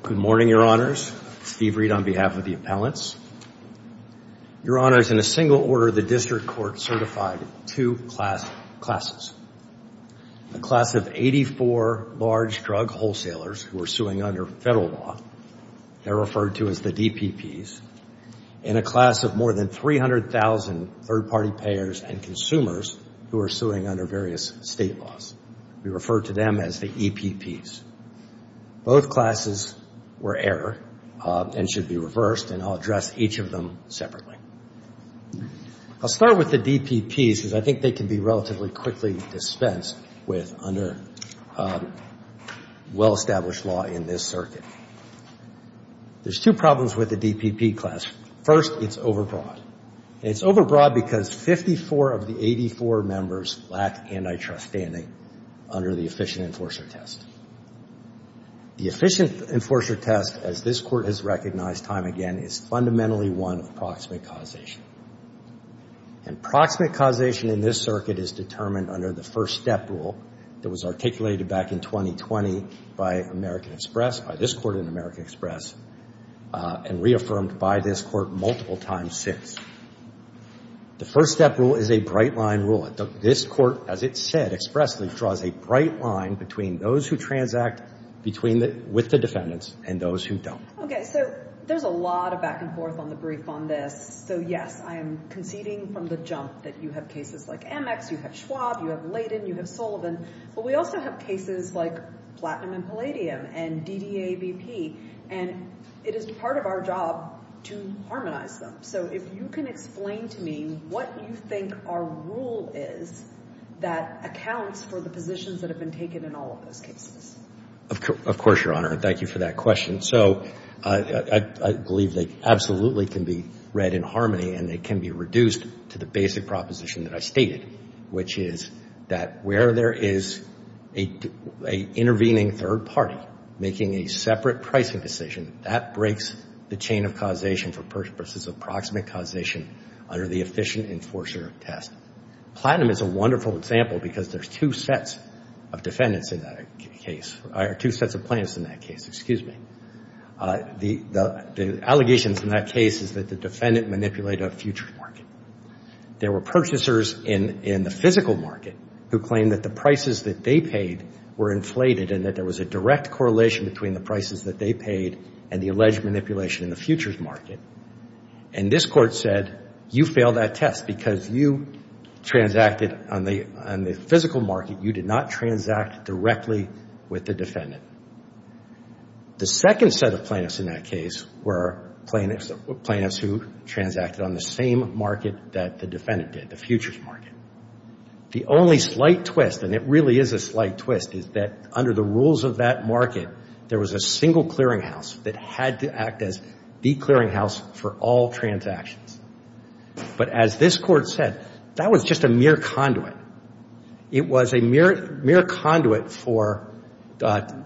Good morning, your honors. Steve Reed on behalf of the appellants. Your honors, in a single order, the district court certified two classes. A class of 84 large drug wholesalers who are suing under federal law. They're referred to as the DPPs. And a class of more than 300,000 third party payers and consumers who are suing under various state laws. We refer to them as the EPPs. Both classes were error and should be reversed and I'll address each of them separately. I'll start with the DPPs because I think they can be relatively quickly dispensed with under well-established law in this circuit. There's two problems with the DPP class. First, it's overbroad. It's overbroad because 54 of the 84 members lack antitrust standing under the Efficient Enforcer Test. The Efficient Enforcer Test, as this court has recognized time again, is fundamentally one of proximate causation. And proximate causation in this circuit is determined under the First Step Rule that was articulated back in 2020 by American Express, by this court in American Express, and reaffirmed by this court multiple times since. The First Step Rule is a bright line rule. This court, as it said expressly, draws a bright line between those who transact with the defendants and those who don't. Okay, so there's a lot of back and forth on the brief on this. So, yes, I'm conceding from the jump that you have cases like Emmex, you have Schwab, you have Layden, you have Sullivan, but we also have cases like Platinum and Palladium and DDAVP and it is part of our job to harmonize them. So if you can explain to me what you think our rule is that accounts for the positions that have been taken in all of those cases. Of course, Your Honor. Thank you for that question. So, I believe they absolutely can be read in harmony and they can be reduced to the basic proposition that I stated, which is that where there is an intervening third party making a separate pricing decision, that breaks the chain of causation for persons of proximate causation under the efficient enforcer of test. Platinum is a wonderful example because there's two sets of defendants in that case, or two sets of plaintiffs in that case, excuse me. The allegations in that case is that the defendant manipulated a futures market. There were purchasers in the physical market who claimed that the prices that they paid were inflated and that there was a direct correlation between the prices that they paid and the alleged manipulation in the futures market. And this court said, you failed that test because you transacted on the physical market. You did not transact directly with the defendant. The second set of plaintiffs in that case were plaintiffs who transacted on the same market that the defendant did, the futures market. The only slight twist, and it really is a slight twist, is that under the rules of that market, there was a single clearinghouse that had to act as the clearinghouse for all transactions. But as this court said, that was just a mere conduit. It was a mere conduit for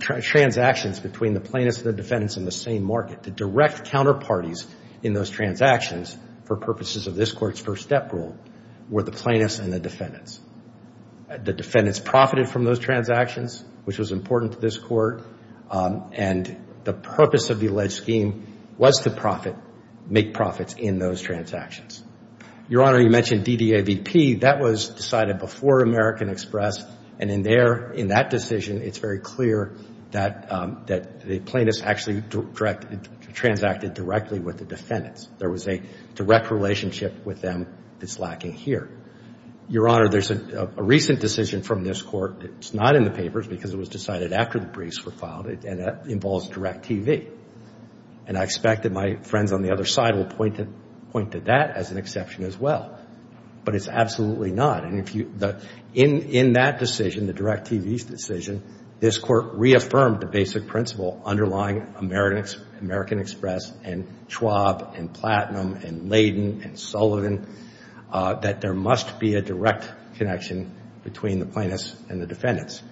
transactions between the plaintiffs and the defendants in the same market. The direct counterparties in those transactions, for purposes of this court's first step rule, were the plaintiffs and the defendants. The defendants profited from those transactions, which was important to this court, and the purpose of the alleged scheme was to make profits in those transactions. Your Honor, you mentioned DDAVP. That was decided before American Express, and in that decision, it's very clear that the plaintiffs actually transacted directly with the defendants. There was a direct relationship with them that's lacking here. Your Honor, there's a recent decision from this court that's not in the papers because it was decided after the briefs were filed, and that involves DIRECTV. And I expect that my friends on the other side will point to that as an exception as well, but it's absolutely not. In that decision, the DIRECTV decision, this court reaffirmed the basic principle underlying American Express, and Schwab, and Platinum, and Laden, and Sullivan, that there must be a direct connection between the plaintiffs and the defendants.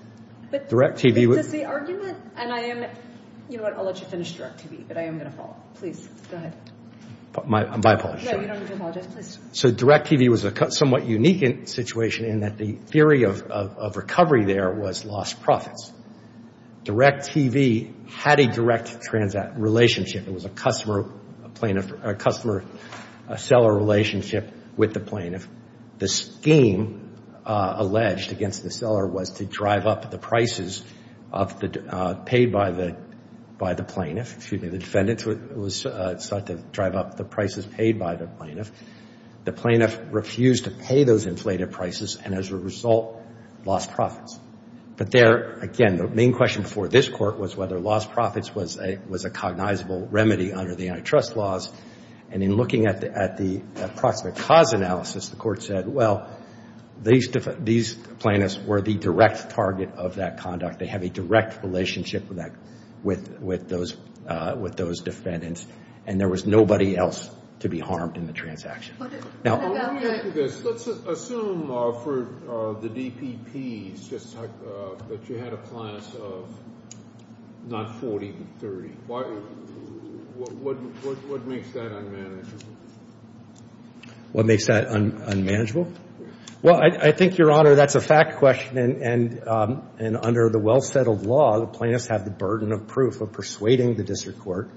But this is the argument, and I am, you know what, I'll let you finish DIRECTV, but I am going to follow up. Please, go ahead. My apologies. Yeah, you don't need to apologize. So, DIRECTV was a somewhat unique situation in that the theory of recovery there was lost profits. DIRECTV had a direct relationship. It was a customer-seller relationship with the plaintiff. The scheme alleged against the seller was to drive up the prices paid by the plaintiff, excuse me, the defendant sought to drive up the prices paid by the plaintiff. The plaintiff refused to pay those inflated prices, and as a result, lost profits. But there, again, the main question for this court was whether lost profits was a cognizable remedy under the antitrust laws, and in looking at the approximate cause analysis, the court said, well, these plaintiffs were the direct target of that conduct. They have a direct relationship with those defendants, and there was nobody else to be harmed in the transaction. Let's assume for the DPPs that you had a class of not 40, but 30. What makes that unmanageable? What makes that unmanageable? Well, I think, Your Honor, that's a fact question, and under the well-settled law, the plaintiffs have the burden of proof of persuading the district court,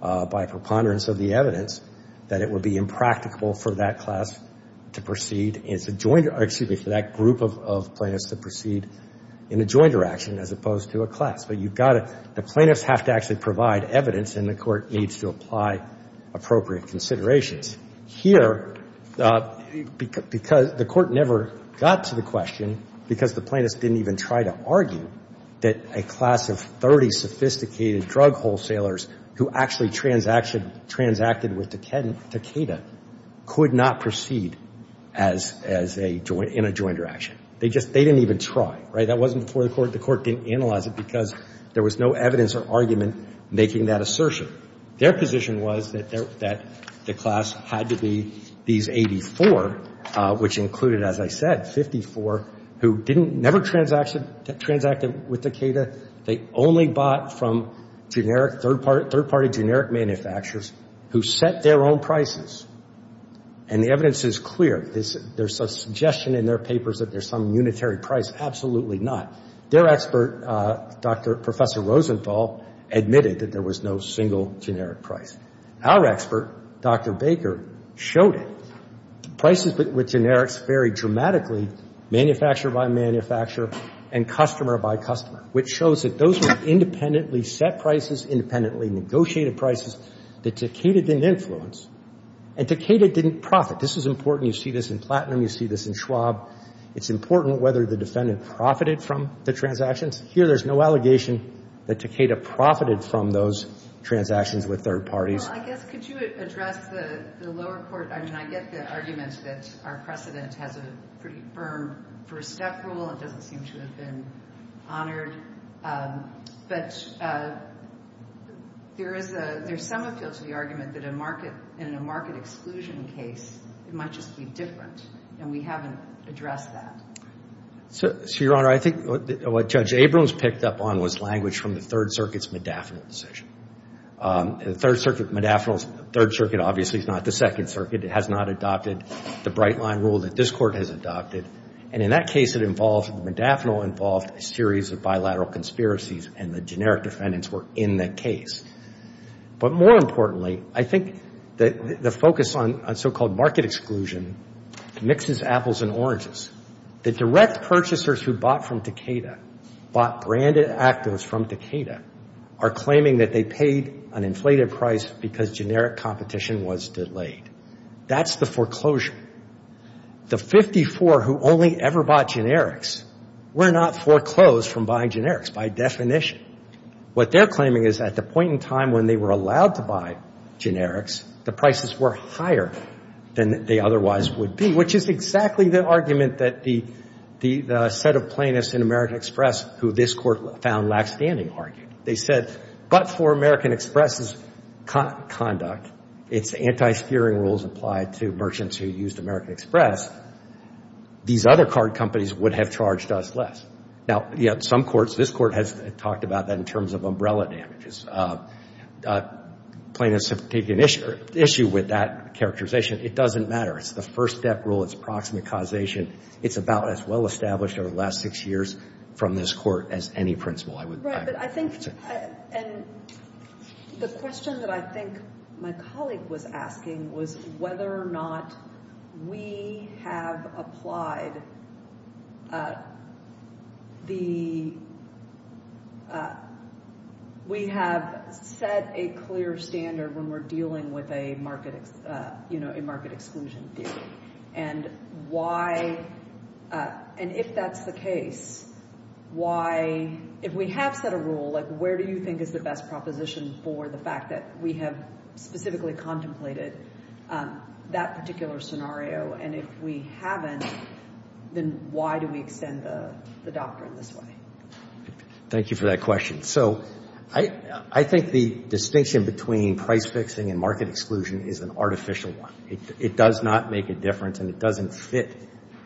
by preponderance of the evidence, that it would be impractical for that class to proceed, excuse me, for that group of plaintiffs to proceed in a jointer action as opposed to a class. The plaintiffs have to actually provide evidence, and the court needs to apply appropriate considerations. Here, because the court never got to the question, because the plaintiffs didn't even try to argue that a class of 30 sophisticated drug wholesalers who actually transacted with Takeda could not proceed in a jointer action. They didn't even try. That wasn't before the court. The court didn't analyze it, because there was no evidence or argument making that assertion. Their position was that the class had to be these 84, which included, as I said, 54 who never transacted with Takeda. They only bought from generic, third-party generic manufacturers who set their own prices. And the evidence is clear. There's a suggestion in their papers that there's some unitary price. Absolutely not. Their expert, Professor Rosenthal, admitted that there was no single generic price. Our prices with generics vary dramatically, manufacturer by manufacturer, and customer by customer, which shows that those who independently set prices, independently negotiated prices, that Takeda didn't influence. And Takeda didn't profit. This is important. You see this in Platinum. You see this in Schwab. It's important whether the defendant profited from the transactions. Here, there's no allegation that Takeda profited from those transactions with third parties. Well, I guess, could you address the lower court? I mean, I get the argument that our precedents have a pretty firm first step rule, that the defense should have been honored. But there's some appeal to the argument that in a market exclusion case, it might just be difference, and we haven't addressed that. So, Your Honor, I think what Judge Abrams picked up on was language from the Third Circuit's medaphinal position. The Third Circuit, obviously, is not the Second Circuit. It has not adopted the bright line rule that this Court has adopted. And in that case, the medaphinal involved a series of bilateral conspiracies, and the generic defendants were in that case. But more importantly, I think the focus on so-called market exclusion mixes apples and are claiming that they paid an inflated price because generic competition was delayed. That's the foreclosure. The 54 who only ever bought generics were not foreclosed from buying generics by definition. What they're claiming is at the point in time when they were allowed to buy generics, the prices were higher than they otherwise would be, which is exactly the argument that the set of plaintiffs in American Express, who this Court found They said, but for American Express's conduct, if anti-steering rules applied to merchants who used American Express, these other card companies would have charged us less. Now, some courts, this Court has talked about that in terms of umbrella damages. Plaintiffs have taken issue with that characterization. It doesn't matter. It's the first step rule. It's approximate causation. It's about as well established over the last six years from this Court as any principle. Right, but I think, and the question that I think my colleague was asking was whether or not we have applied the, we have set a clear standard when we're dealing with a market exclusion theory, and why, and if that's the case, why, if we have set a rule, like where do you think is the best proposition for the fact that we have specifically contemplated that particular scenario, and if we haven't, then why do we extend the doctrine this way? Thank you for that question. So, I think the distinction between price fixing and market exclusion is an artificial one. It does not make a difference, and it doesn't fit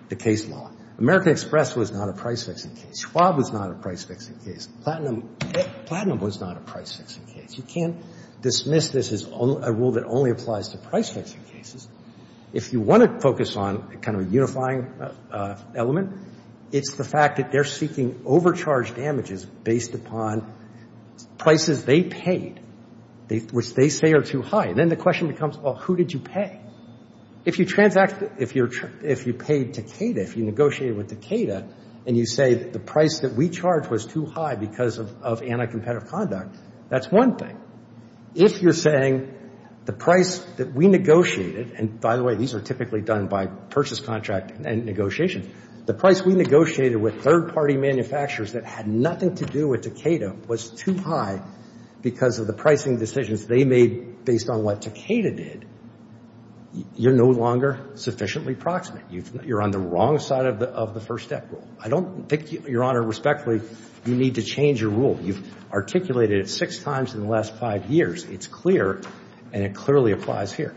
the case law. American Express was not a price-fixing case. HUA was not a price-fixing case. Platinum was not a price-fixing case. You can't dismiss this as a rule that only applies to price-fixing cases. If you want to focus on a kind of unifying element, it's the fact that they're seeking overcharge damages based upon prices they paid, which they say are too high, and then the question becomes, well, who did you pay? If you transact, if you paid Takeda, if you negotiated with Takeda, and you say the price that we charged was too high because of anti-competitive conduct, that's one thing. If you're saying the price that we negotiated, and by the way, these are typically done by purchase contract negotiation, the price we negotiated with third-party manufacturers that had nothing to do with Takeda was too high because of the pricing decisions they made based on what Takeda did, you're no longer sufficiently proximate. You're on the wrong side of the first step rule. I don't think, Your Honor, respectfully, you need to change your rule. You've articulated it six times in the last five years. It's clear, and it clearly applies here.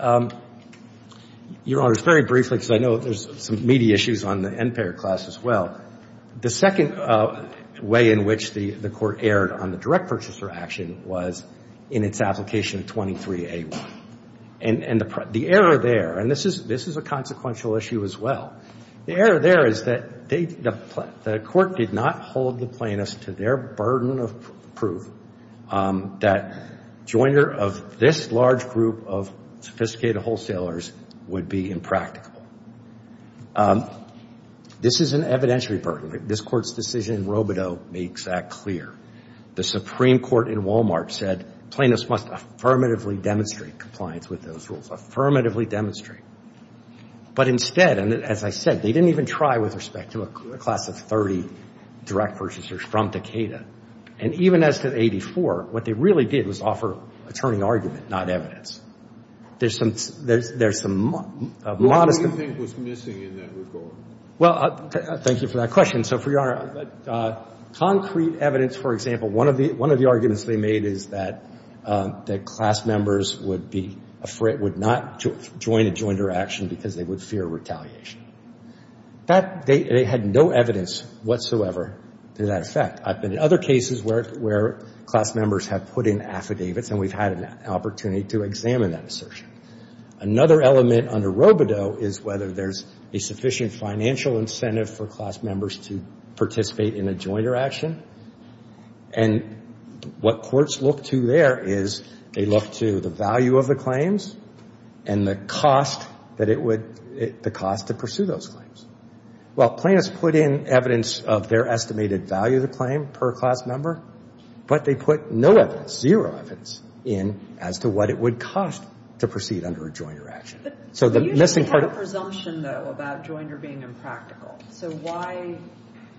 Your Honor, just very briefly, because I know there's some media issues on the Empire class as well, the second way in which the court erred on the direct purchaser action was in its application 23A1. The error there, and this is a consequential issue as well, the error there is that the court did not hold the plaintiffs to their burden of proof that a jointer of this large group of sophisticated wholesalers would be impractical. This is an evidentiary burden. This court's decision in Robodeau makes that clear. The Supreme Court in Wal-Mart said plaintiffs must affirmatively demonstrate compliance with those rules, affirmatively demonstrate. But instead, and as I said, they didn't even try with respect to a class of 30 direct purchasers from Takeda. And even as for 84, what they really did was offer a turning argument, not evidence. There's some... What do you think was missing in that report? Well, thank you for that question. So for your Honor, concrete evidence, for example, one of the arguments they made is that class members would not join a jointer action because they would fear retaliation. They had no evidence whatsoever to that effect. I've been in other cases where class members have put in affidavits and we've had an opportunity to examine that assertion. Another element under Robodeau is whether there's a sufficient financial incentive for class members to participate in a jointer action. And what courts look to there is they look to the value of the claims and the cost to pursue those claims. Well, plaintiffs put in evidence of their estimated value of the claim per class member, but they put no evidence, zero evidence, in as to what it would cost to proceed under a jointer action. You didn't have a presumption, though, about jointer being impractical. So why,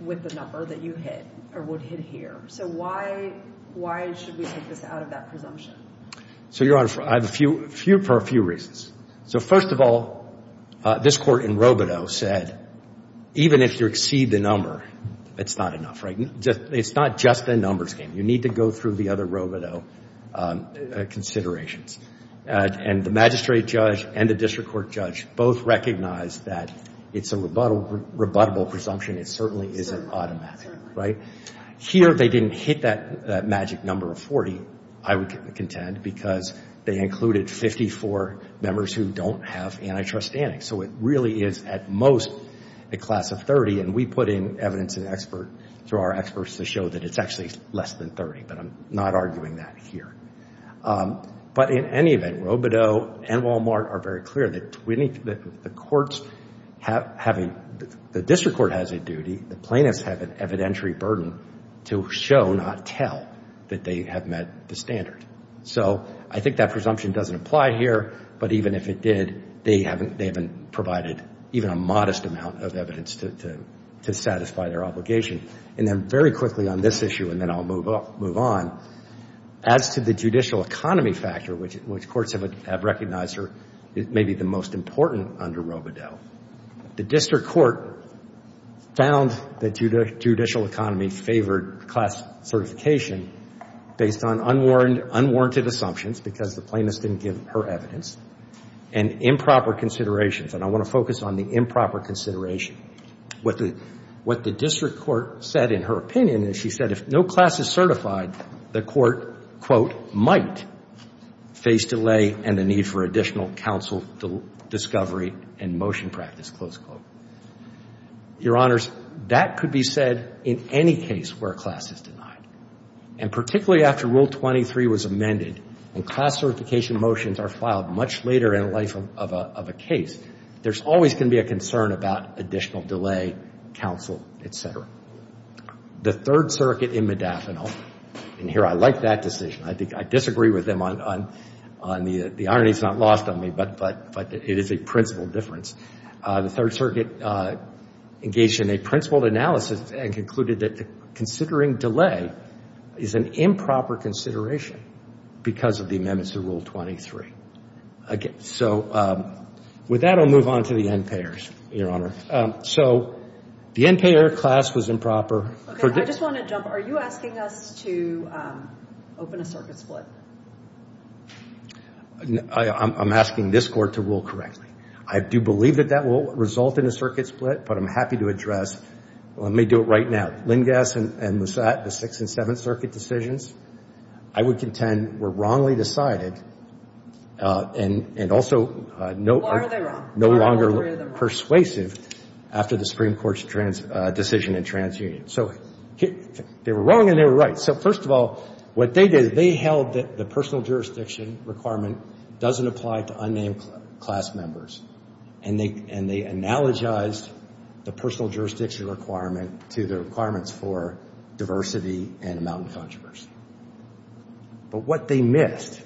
with the number that you hit, or would hit here, so why should we take this out of that presumption? So, Your Honor, I have a few reasons. So, first of all, this court in Robodeau said even if you exceed the number, it's not enough. It's not just a numbers game. You need to go through the other Robodeau considerations. And the magistrate judge and the district court judge both recognized that it's a rebuttable presumption. It certainly isn't automatic. Here, they didn't hit that magic number of 40, I would contend, because they included 54 members who don't have antitrust standing. So it really is at most a class of 30, and we put in evidence to our experts to show that it's actually less than 30, but I'm not arguing that here. But in any event, Robodeau and Walmart are very clear that the district court has a duty, the plaintiffs have an evidentiary burden, to show, not tell, that they have met the standard. So I think that presumption doesn't apply here, but even if it did, they haven't provided even a modest amount of evidence to satisfy their obligation. And then very quickly on this issue, and then I'll move on, as to the judicial economy factor, which courts have recognized may be the most important under Robodeau, the district court found that judicial economy favored class certification based on unwarranted assumptions, because the plaintiff didn't give her evidence, and improper considerations, and I want to focus on the improper considerations. What the district court said in her opinion is she said if no class is certified, the court, quote, might face delay and the need for additional counsel discovery and motion practice, close quote. Your Honors, that could be said in any case where class is denied. And particularly after Rule 23 was amended, and class certification motions are filed much later in the life of a case, there's always going to be a concern about additional delay, counsel, etc. The Third Circuit in Modaffino, and here I like that decision, I disagree with them on this, and the irony is not lost on me, but it is a principle difference. The Third Circuit engaged in a principle analysis and concluded that considering delay is an improper consideration because of the amendments to Rule 23. Okay, so with that I'll move on to the NPAERS, Your Honor. So the NPAER class was improper. Okay, I just want to jump, are you asking us to open a circuit split? I'm asking this court to rule correctly. I do believe that that will result in a circuit split, but I'm happy to address, let me do it right now. Lindas and Moussat, the Sixth and Seventh Circuit decisions, I would contend were wrongly decided and also no longer persuasive after the Supreme Court's decision in TransUnion. So they were wrong and they were right. So first of all, what they did, they held that the personal jurisdiction requirement doesn't apply to unnamed class members, and they analogized the personal jurisdiction requirement to the requirements for diversity and amount of controversy. But what they missed,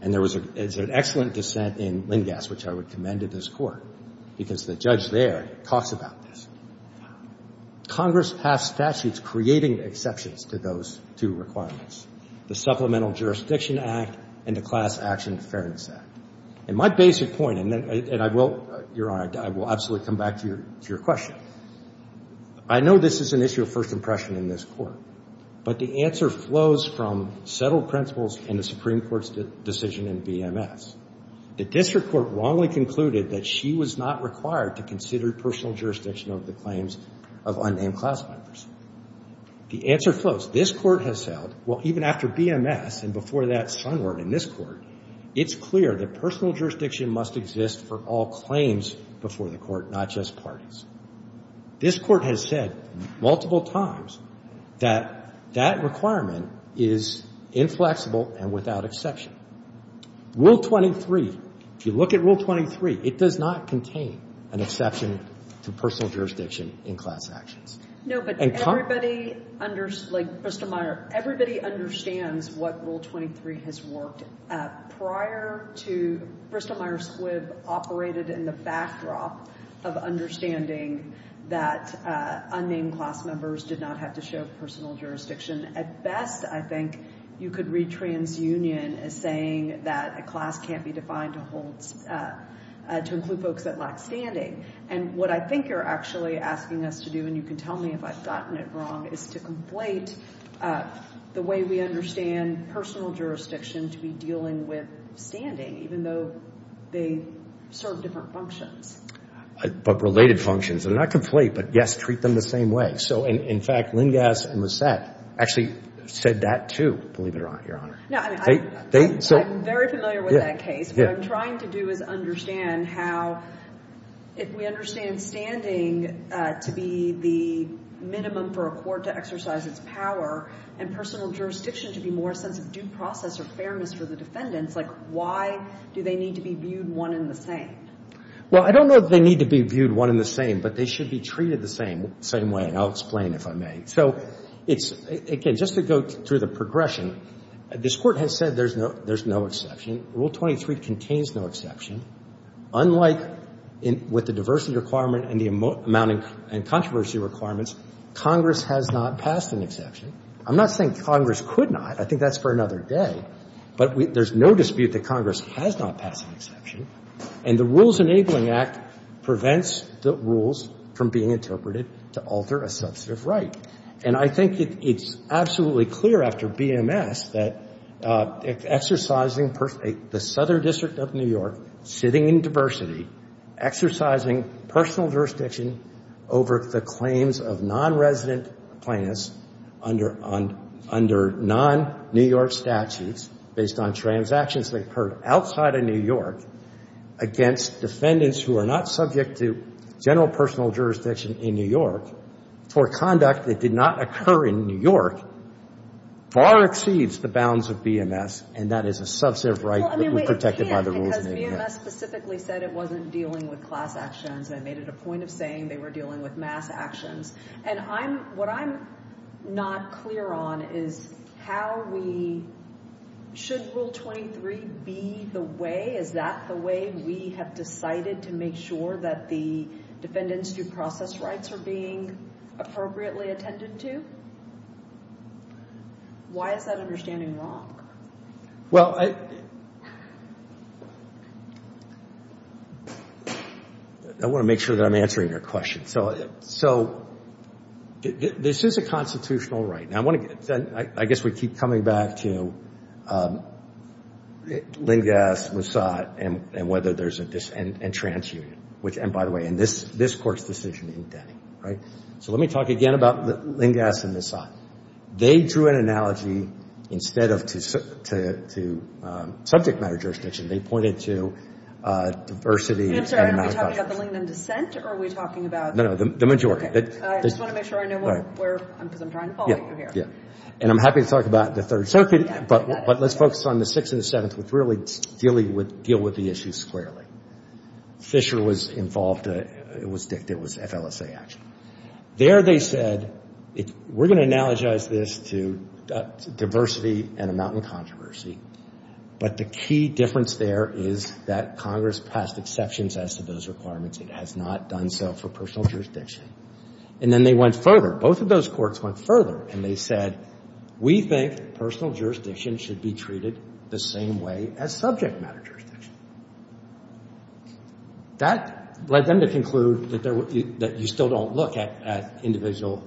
and there was an excellent dissent in Lindas, which I would commend to this court, because the judge there talks about this. Congress passed statutes creating exceptions to those two requirements, the Supplemental Jurisdiction Act and the Class Action Fairness Act. And my basic point, and I will, Your Honor, I will absolutely come back to your question. I know this is an issue of first impression in this court, but the answer flows from settled principles in the Supreme Court's decision in VMS. The district court wrongly concluded that she was not required to consider personal jurisdiction of the claims of unnamed class members. The answer flows. This court has said, well, even after VMS and before that, somewhere in this court, it's clear that personal jurisdiction must exist for all claims before the court, not just parties. This court has said multiple times that that requirement is inflexible and without exception. Rule 23, if you look at Rule 23, it does not contain an exception to personal jurisdiction in class actions. No, but everybody, like Krista Meyer, everybody understands what Rule 23 has worked at. Prior to, Krista Meyer Squibb operated in the backdrop of understanding that unnamed class members did not have to share personal jurisdiction. At best, I think, you could read TransUnion as saying that a class can't be defined to include folks that lack standing. And what I think you're actually asking us to do, and you can tell me if I've gotten it wrong, is to complete the way we understand personal jurisdiction to be dealing with standing, even though they serve different functions. But related functions. They're not complete, but yes, treat them the same way. So, in fact, Lindas and Lissette actually said that, too, believe it or not, Your Honor. No, I'm very familiar with that case. What I'm trying to do is understand how, if we understand standing to be the minimum for a court to exercise its power, and personal jurisdiction to be more of a due process or fairness for the defendants, like why do they need to be viewed one and the same? Well, I don't know if they need to be viewed one and the same, but they should be treated the same way, and I'll explain if I may. So, again, just to go through the progression, this Court has said there's no exception. Rule 23 contains no exception. Unlike with the diversity requirement and the amount of controversy requirements, Congress has not passed an exception. I'm not saying Congress could not. I think that's for another day. But there's no dispute that Congress has not passed an exception, and the Rules Enabling Act prevents the rules from being interpreted to alter a substantive right. And I think it's absolutely clear after BMS that exercising the Southern District of New York, sitting in diversity, exercising personal jurisdiction over the claims of non-resident plaintiffs under non-New York statutes based on transactions that occurred outside of New York against defendants who are not subject to general personal jurisdiction in New York for conduct that did not occur in New York far exceeds the bounds of BMS, and that is a substantive right that is protected by the Rules Enabling Act. Well, I mean, it can't, because BMS specifically said it wasn't dealing with class actions. They made it a point of saying they were dealing with mass actions. And I'm, what I'm not clear on is how we, should Rule 23 be the way? Is that the way we have decided to make sure that the defendants' due process rights are being appropriately attended to? Why is that understanding wrong? Well, I, I want to make sure that I'm answering your question. So, so this is a constitutional right. And I want to, I guess we keep coming back to Lingass, Massat, and whether there's a dis, and transunion, which, and by the way, in this, this court's decision, right? So let me talk again about Lingass and Massat. They drew an analogy instead of to, to, to subject matter jurisdiction. They pointed to diversity. Are we talking about the majority? And I'm happy to talk about the Third Circuit, but let's focus on the Sixth and the Seventh which really deal with, deal with the issues squarely. Fisher was involved. It was, it was FLSA action. There they said, we're going to analogize this to diversity and a mountain of controversy. But the key difference there is that Congress passed exceptions as to those requirements. It has not done so for personal jurisdiction. And then they went further. Both of those courts went further and they said, we think personal jurisdiction should be treated the same way as subject matter jurisdiction. That led them to conclude that there, that you still don't look at, at individual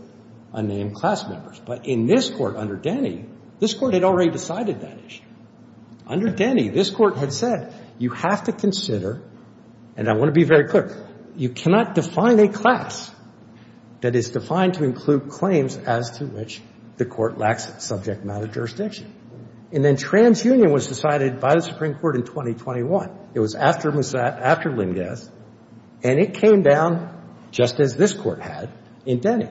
unnamed class members. But in this court, under Denny, this court had already decided that issue. Under Denny, this court had said, you have to consider, and I want to be very clear, you cannot define a class that is defined to include claims as to which the court lacks subject matter jurisdiction. And then TransUnion was decided by the Supreme Court in 2021. It was after Massat, after Lingass, and it came down just as this court had in Denny.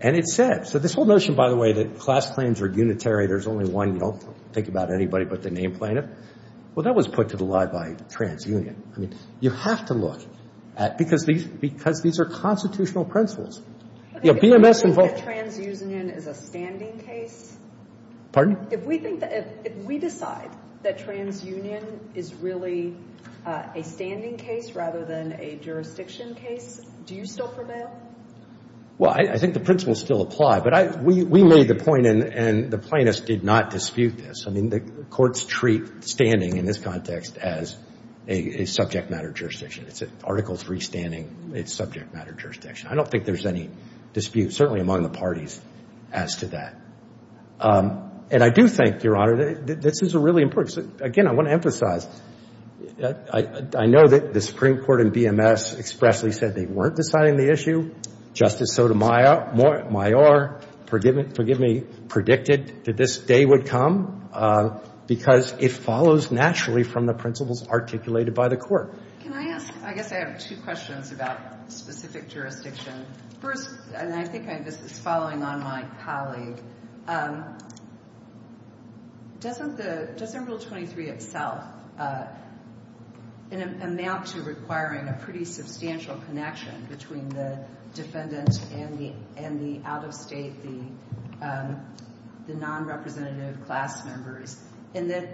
And it said, so this whole notion, by the way, that class claims are unitary, there's only one, you don't think about anybody but the named plaintiff. Well, that was put to the lie by TransUnion. I mean, you have to look at, because these are constitutional principles. If we think that TransUnion is a standing case, if we decide that TransUnion is really a standing case rather than a jurisdiction case, do you still prevail? Well, I think the principles still apply. But we made the point, and the plaintiffs did not dispute this. I mean, the courts treat standing in this context as a subject matter jurisdiction. It's Article III standing, it's subject matter jurisdiction. I don't think there's any dispute, certainly among the parties, as to that. And I do think, Your Honor, that this is a really important, again, I want to emphasize, I know that the Supreme Court and BMS expressly said they weren't deciding the issue. Justice Sotomayor predicted that this day would come, because it follows naturally from the principles articulated by the court. Can I ask, I guess I have two questions about specific jurisdictions. First, and I think this is following on my colleague. Just under Rule 23 itself, it amounts to requiring a pretty substantial connection between the defendant and the out-of-state, the non-representative class members. And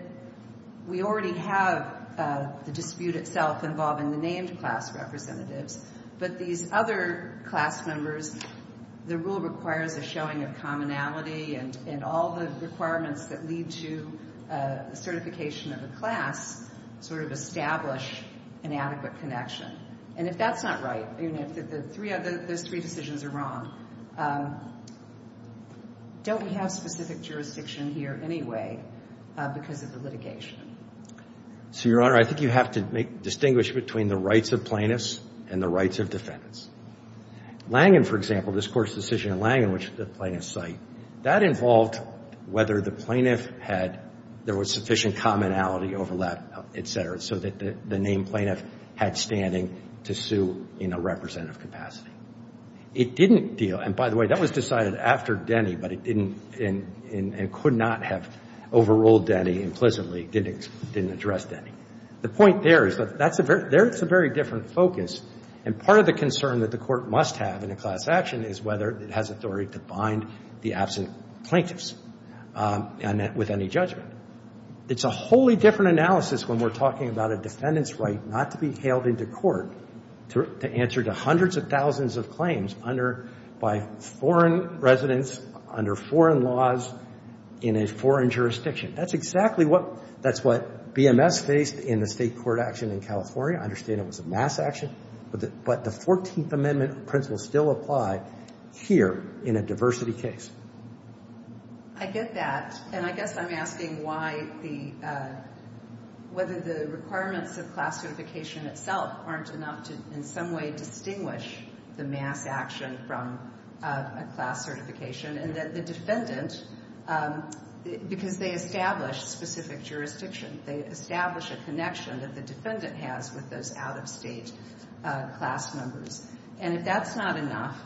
we already have the dispute itself involving the named class representatives. But these other class members, the rule requires a showing of commonality, and all the requirements that lead to a certification of the class sort of establish an adequate connection. And if that's not right, if those three decisions are wrong, don't we have specific jurisdiction here anyway because of the litigation? So, Your Honor, I think you have to distinguish between the rights of plaintiffs and the rights of defendants. Langan, for example, this court's decision in Langan, which is the plaintiff's site, that involved whether the plaintiff had, there was sufficient commonality over that, etc., so that the named plaintiff had standing to sue in a representative capacity. It didn't deal, and by the way, that was decided after Denny, but it didn't, and could not have overruled Denny implicitly, didn't address Denny. The point there is that there's a very different focus, and part of the concern that the court must have in a class action is whether it has authority to bind the absent plaintiffs with any judgment. It's a wholly different analysis when we're talking about a defendant's right not to be hailed into court to answer to hundreds of thousands of claims by foreign residents, under foreign laws, in a foreign jurisdiction. That's exactly what BMS faced in the state court action in California. I understand it was a mass action, but the 14th Amendment principle still applied here in a diversity case. I get that, and I guess I'm asking why the, whether the requirements of class certification itself aren't enough to, in some way, distinguish the mass action from a class certification, and that the defendants, because they establish specific jurisdictions, they establish a connection that the defendant has with those out-of-state class members, and if that's not enough,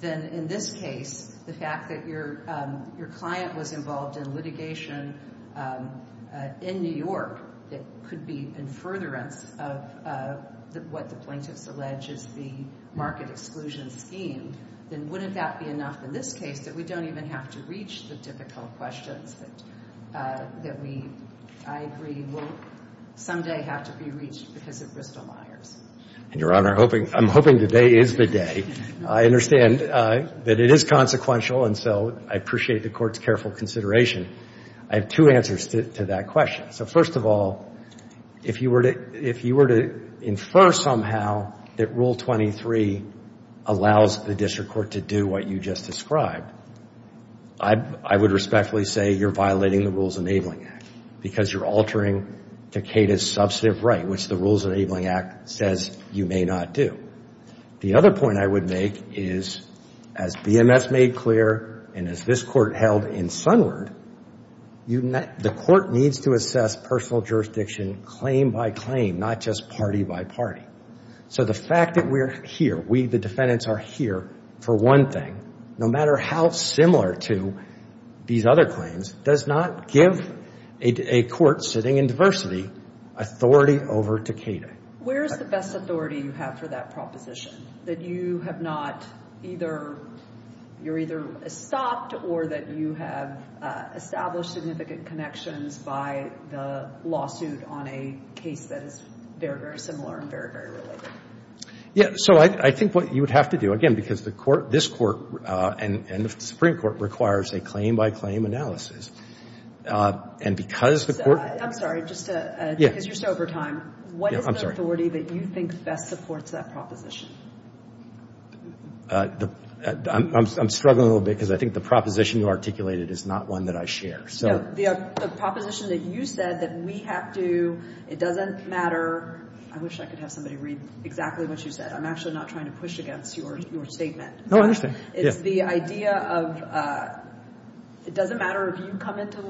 then in this case, the fact that your client was involved in litigation in New York that could be in furtherance of what the plaintiffs allege is the market exclusion scheme, then wouldn't that be enough in this case that we don't even have to reach the typical question that we, I agree, will someday have to be reached because of Bristol-Myers? Your Honor, I'm hoping today is the day. I understand that it is consequential, and so I appreciate the court's careful consideration. I have two answers to that question. So first of all, if you were to infer somehow that Rule 23 allows the district court to do what you just described, I would respectfully say you're violating the Rules Enabling Act because you're altering Takeda's substantive right, which the Rules Enabling Act says you may not do. The other point I would make is, as VMS made clear and as this court held in Sunward, the court needs to assess personal jurisdiction claim by claim, not just party by party. So the fact that we're here, we, the defendants, are here for one thing, no matter how similar to these other claims, does not give a court sitting in diversity authority over Takeda. Where is the best authority you have for that proposition? That you have not either, you're either stopped or that you have established significant connections by the lawsuit on a case that is very, very similar and very, very related. Yeah, so I think what you would have to do, again, because the court, this court, and the Supreme Court requires a claim by claim analysis, and because the court- I'm sorry, just in case you're sober time, what is the authority that you think best supports that proposition? I'm struggling a little bit because I think the proposition you articulated is not one that I share. So the proposition that you said that we have to, it doesn't matter, I wish I could have somebody read exactly what you said, I'm actually not trying to push against your statement. No, I understand. The idea of, it doesn't matter if you come into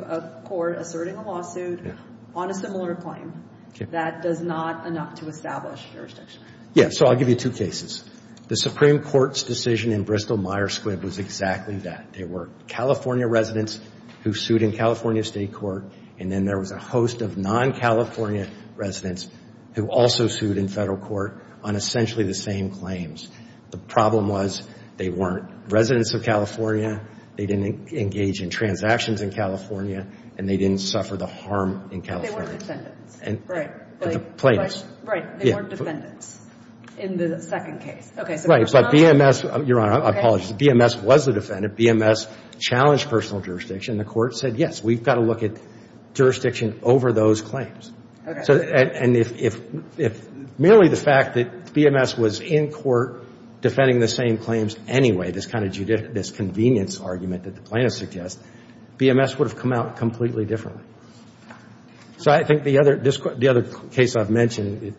a court asserting a lawsuit on a similar claim, that does not enough to establish jurisdiction. Yeah, so I'll give you two cases. The Supreme Court's decision in Bristol-Myers Squibb was exactly that. There were California residents who sued in California state court, and then there was a host of non-California residents who also sued in federal court on essentially the same claims. The problem was they weren't residents of California, they didn't engage in transactions in California, and they didn't suffer the harm in California. They weren't defendants. Right, they weren't defendants in the second case. Right, but BMS, Your Honor, I apologize. BMS was the defendant. BMS challenged personal jurisdiction. The court said, yes, we've got to look at jurisdiction over those claims. And if merely the fact that BMS was in court defending the same claims anyway, this kind of convenience argument that the plaintiff suggests, BMS would have come out completely differently. So I think the other case I've mentioned,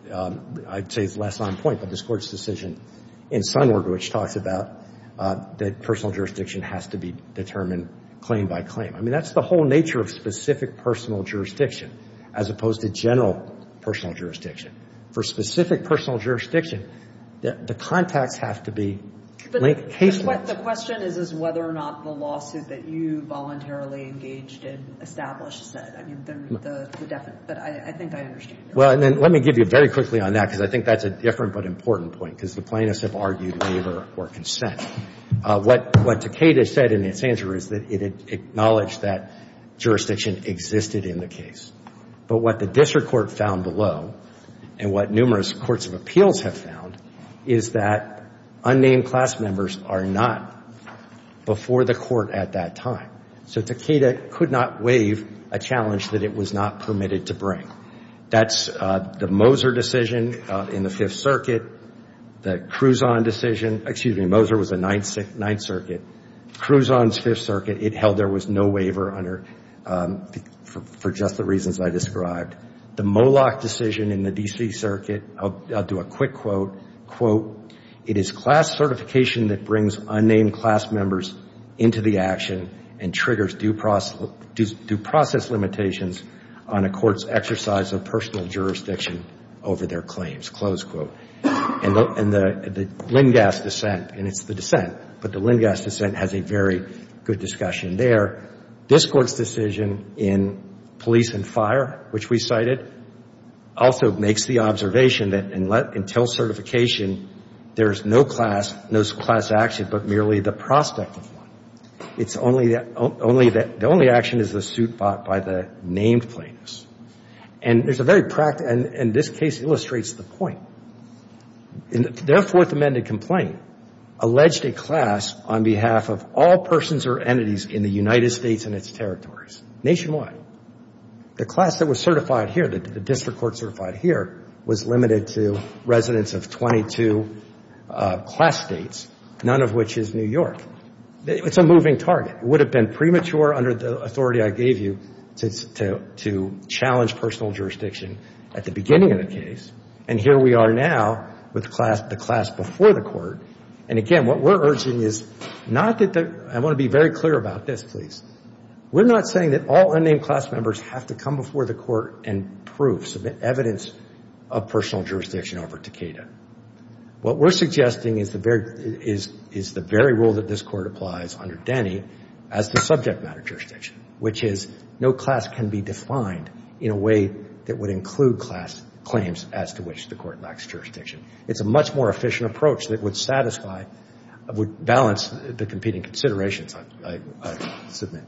I'd say it's less on point, but this court's decision in Sunward, which talks about that personal jurisdiction has to be determined claim by claim. I mean, that's the whole nature of specific personal jurisdiction, as opposed to general personal jurisdiction. For specific personal jurisdiction, the contact has to be linked case-by-case. But the question is whether or not the lawsuit that you voluntarily engaged in established that. I think I understand that. Well, let me give you very quickly on that, because I think that's a different but important point, because the plaintiffs have argued neither for consent. What Takeda said in his answer is that it acknowledged that jurisdiction existed in the case. But what the district court found below, and what numerous courts of appeals have found, is that unnamed class members are not before the court at that time. So Takeda could not waive a challenge that it was not permitted to bring. That's the Moser decision in the Fifth Circuit. The Cruzon decision, excuse me, Moser was the Ninth Circuit. Cruzon's Fifth Circuit, it held there was no waiver for just the reasons I described. The Moloch decision in the D.C. Circuit, I'll do a quick quote. Quote, it is class certification that brings unnamed class members into the action and triggers due process limitations on a court's exercise of personal jurisdiction over their claims, close quote. And the Lindgast dissent, and it's the dissent, but the Lindgast dissent has a very good discussion there. This court's decision in police and fire, which we cited, also makes the observation that until certification, there is no class action but merely the prospect. It's only that the only action is the suit fought by the named claims. And there's a very practical, and this case illustrates the point. Therefore, the amended complaint alleged a class on behalf of all persons or entities in the United States and its territories, nationwide. The class that was certified here, the district court certified here, was limited to residents of 22 class states, none of which is New York. It's a moving target. It would have been premature under the authority I gave you to challenge personal jurisdiction at the beginning of the case. And here we are now with the class before the court. And, again, what we're urging is not that the – I want to be very clear about this, please. We're not saying that all unnamed class members have to come before the court and prove some evidence of personal jurisdiction over Takeda. What we're suggesting is the very rule that this court applies under Denny as the subject matter jurisdiction, which is no class can be defined in a way that would include class claims as to which the court lacks jurisdiction. It's a much more efficient approach that would satisfy – would balance the competing considerations, I submit.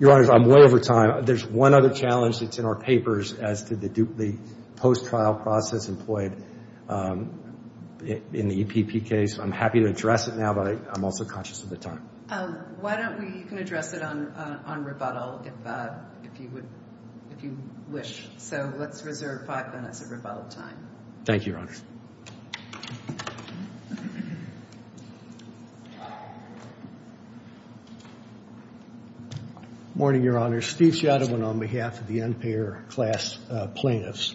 Your Honor, I'm well over time. There's one other challenge that's in our papers as to the post-trial process employed in the EPP case. I'm happy to address it now, but I'm also conscious of the time. Why don't we address it on rebuttal if you wish? So let's reserve five minutes of rebuttal time. Thank you, Your Honor. Good morning, Your Honor. Steve Shadowin on behalf of the unpaired class plaintiffs.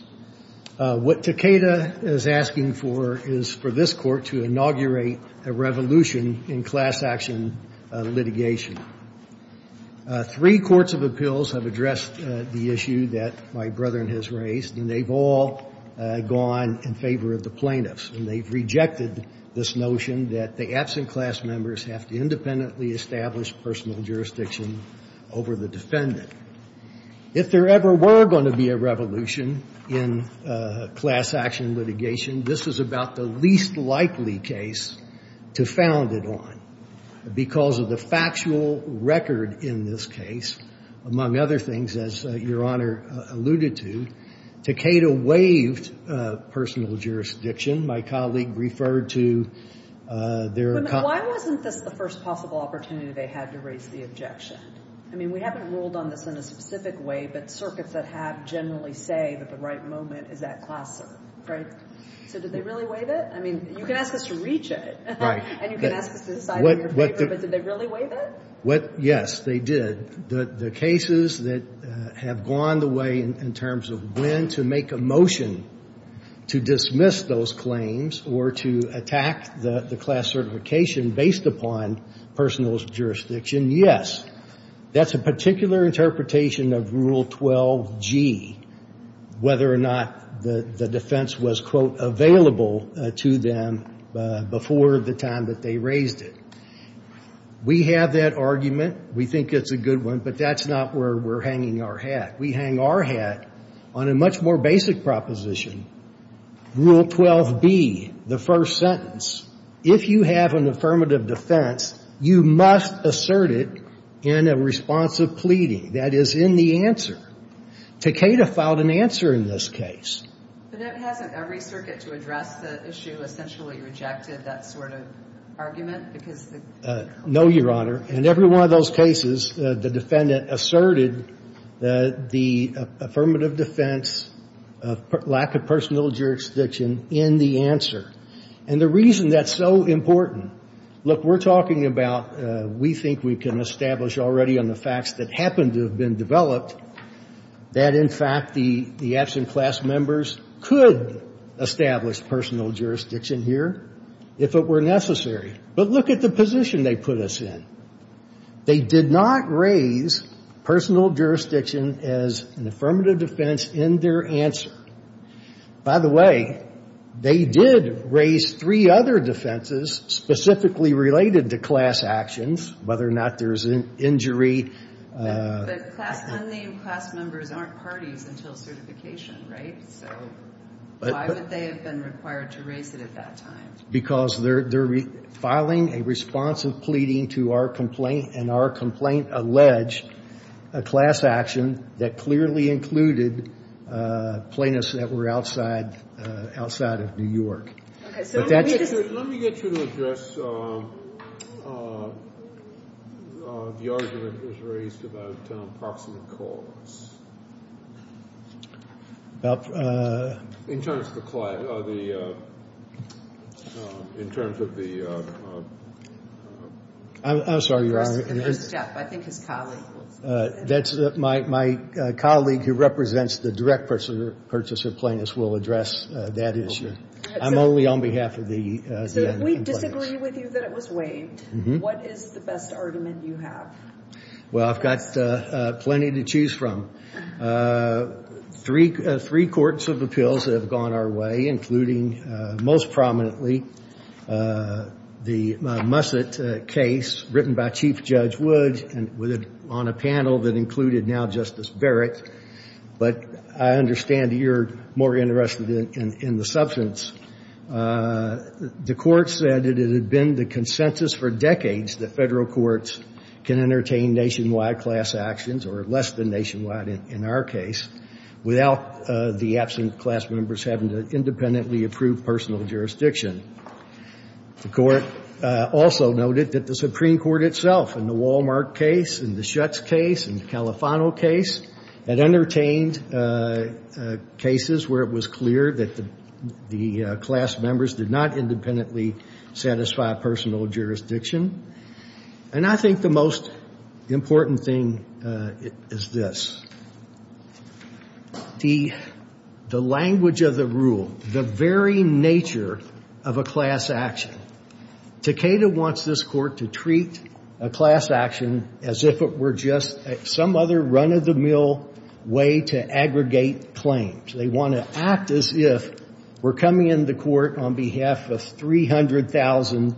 What Takeda is asking for is for this court to inaugurate a revolution in class action litigation. Three courts of appeals have addressed the issue that my brother has raised, and they've all gone in favor of the plaintiffs, and they've rejected this notion that the absent class members have to independently establish personal jurisdiction over the defendant. If there ever were going to be a revolution in class action litigation, this is about the least likely case to found it on because of the factual record in this case, among other things, as Your Honor alluded to. Takeda waived personal jurisdiction. My colleague referred to their- But why wasn't this the first possible opportunity they had to raise the objection? I mean, we haven't ruled on this in a specific way, but circuits that have generally say that the right moment is at classroom. Did they really waive it? I mean, you can ask us to reach it, and you can ask us to decide in your favor, but did they really waive it? Yes, they did. The cases that have gone the way in terms of when to make a motion to dismiss those claims or to attack the class certification based upon personal jurisdiction, yes. That's a particular interpretation of Rule 12G, whether or not the defense was, quote, available to them before the time that they raised it. We have that argument. We think it's a good one, but that's not where we're hanging our hat. We hang our hat on a much more basic proposition, Rule 12B, the first sentence. If you have an affirmative defense, you must assert it in a response of pleading. That is, in the answer. Takeda filed an answer in this case. But hasn't every circuit to address the issue essentially rejected that sort of argument? No, Your Honor. In every one of those cases, the defendant asserted the affirmative defense of lack of personal jurisdiction in the answer. And the reason that's so important, look, we're talking about, we think we can establish already on the facts that happen to have been developed that in fact the absent class members could establish personal jurisdiction here if it were necessary. But look at the position they put us in. They did not raise personal jurisdiction as an affirmative defense in their answer. By the way, they did raise three other defenses specifically related to class actions, whether or not there's an injury. But unnamed class members aren't parties until certification, right? So why would they have been required to raise it at that time? Because they're filing a response of pleading to our complaint, and our complaint alleged a class action that clearly included plaintiffs that were outside of New York. Let me get you to address the argument that was raised about approximate cause. I'm sorry, Your Honor. I think his colleague. My colleague who represents the direct purchaser plaintiffs will address that issue. I'm only on behalf of the plaintiffs. If we disagree with you that it was waived, what is the best argument you have? Well, I've got plenty to choose from. Three courts of appeals have gone our way, including most prominently the Musset case written by Chief Judge Wood on a panel that included now Justice Barrett. But I understand you're more interested in the substance. The court said that it had been the consensus for decades that federal courts can entertain nationwide class actions, or less than nationwide in our case, without the absent class members having to independently approve personal jurisdiction. The court also noted that the Supreme Court itself in the Wal-Mart case, in the Schutz case, in the Califano case, had entertained cases where it was clear that the class members did not independently satisfy personal jurisdiction. And I think the most important thing is this. The language of the rule, the very nature of a class action. Takeda wants this court to treat a class action as if it were just some other run-of-the-mill way to aggregate claims. They want to act as if we're coming into court on behalf of 300,000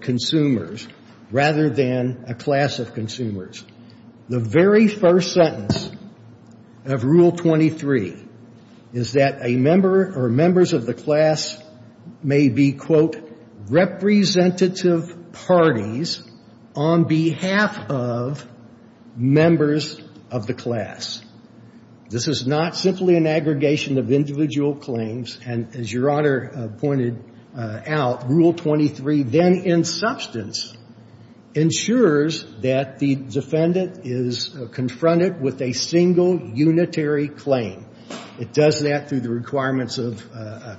consumers rather than a class of consumers. The very first sentence of Rule 23 is that a member or members of the class may be, quote, representative parties on behalf of members of the class. This is not simply an aggregation of individual claims. And as Your Honor pointed out, Rule 23 then, in substance, ensures that the defendant is confronted with a single unitary claim. It does that through the requirements of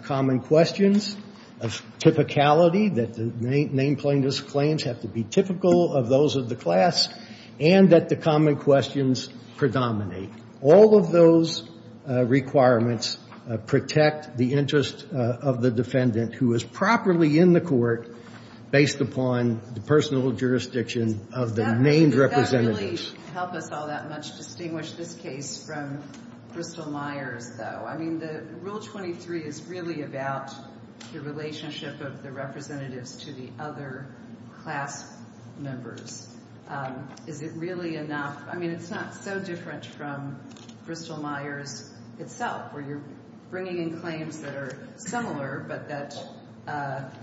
common questions, of typicality, that the name plaintiff's claims have to be typical of those of the class, and that the common questions predominate. All of those requirements protect the interest of the defendant who is properly in the court based upon the personal jurisdiction of the named representatives. It doesn't really help us all that much to distinguish this case from Bristol-Myers, though. I mean, Rule 23 is really about the relationship of the representatives to the other class members. Is it really enough? I mean, it's not so different from Bristol-Myers itself, where you're bringing in claims that are similar but that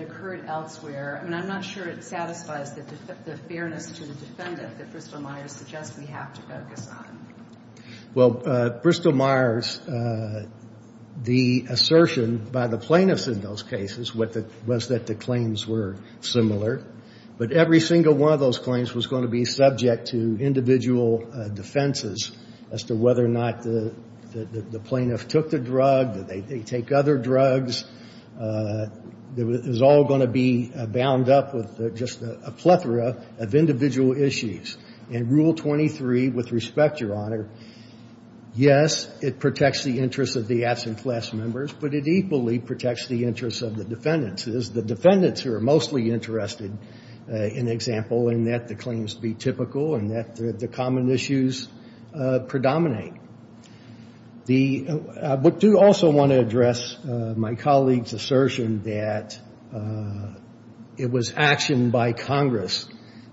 occurred elsewhere. And I'm not sure it satisfies the fairness of the defendant that Bristol-Myers suggests we have to focus on. Well, Bristol-Myers, the assertion by the plaintiffs in those cases was that the claims were similar. But every single one of those claims was going to be subject to individual defenses as to whether or not the plaintiff took the drug, that they take other drugs. It was all going to be bound up with just a plethora of individual issues. And Rule 23, with respect, Your Honor, yes, it protects the interest of the absent class members, but it equally protects the interests of the defendants. The defendants are mostly interested, in example, in that the claims be typical and that the common issues predominate. I do also want to address my colleague's assertion that it was action by Congress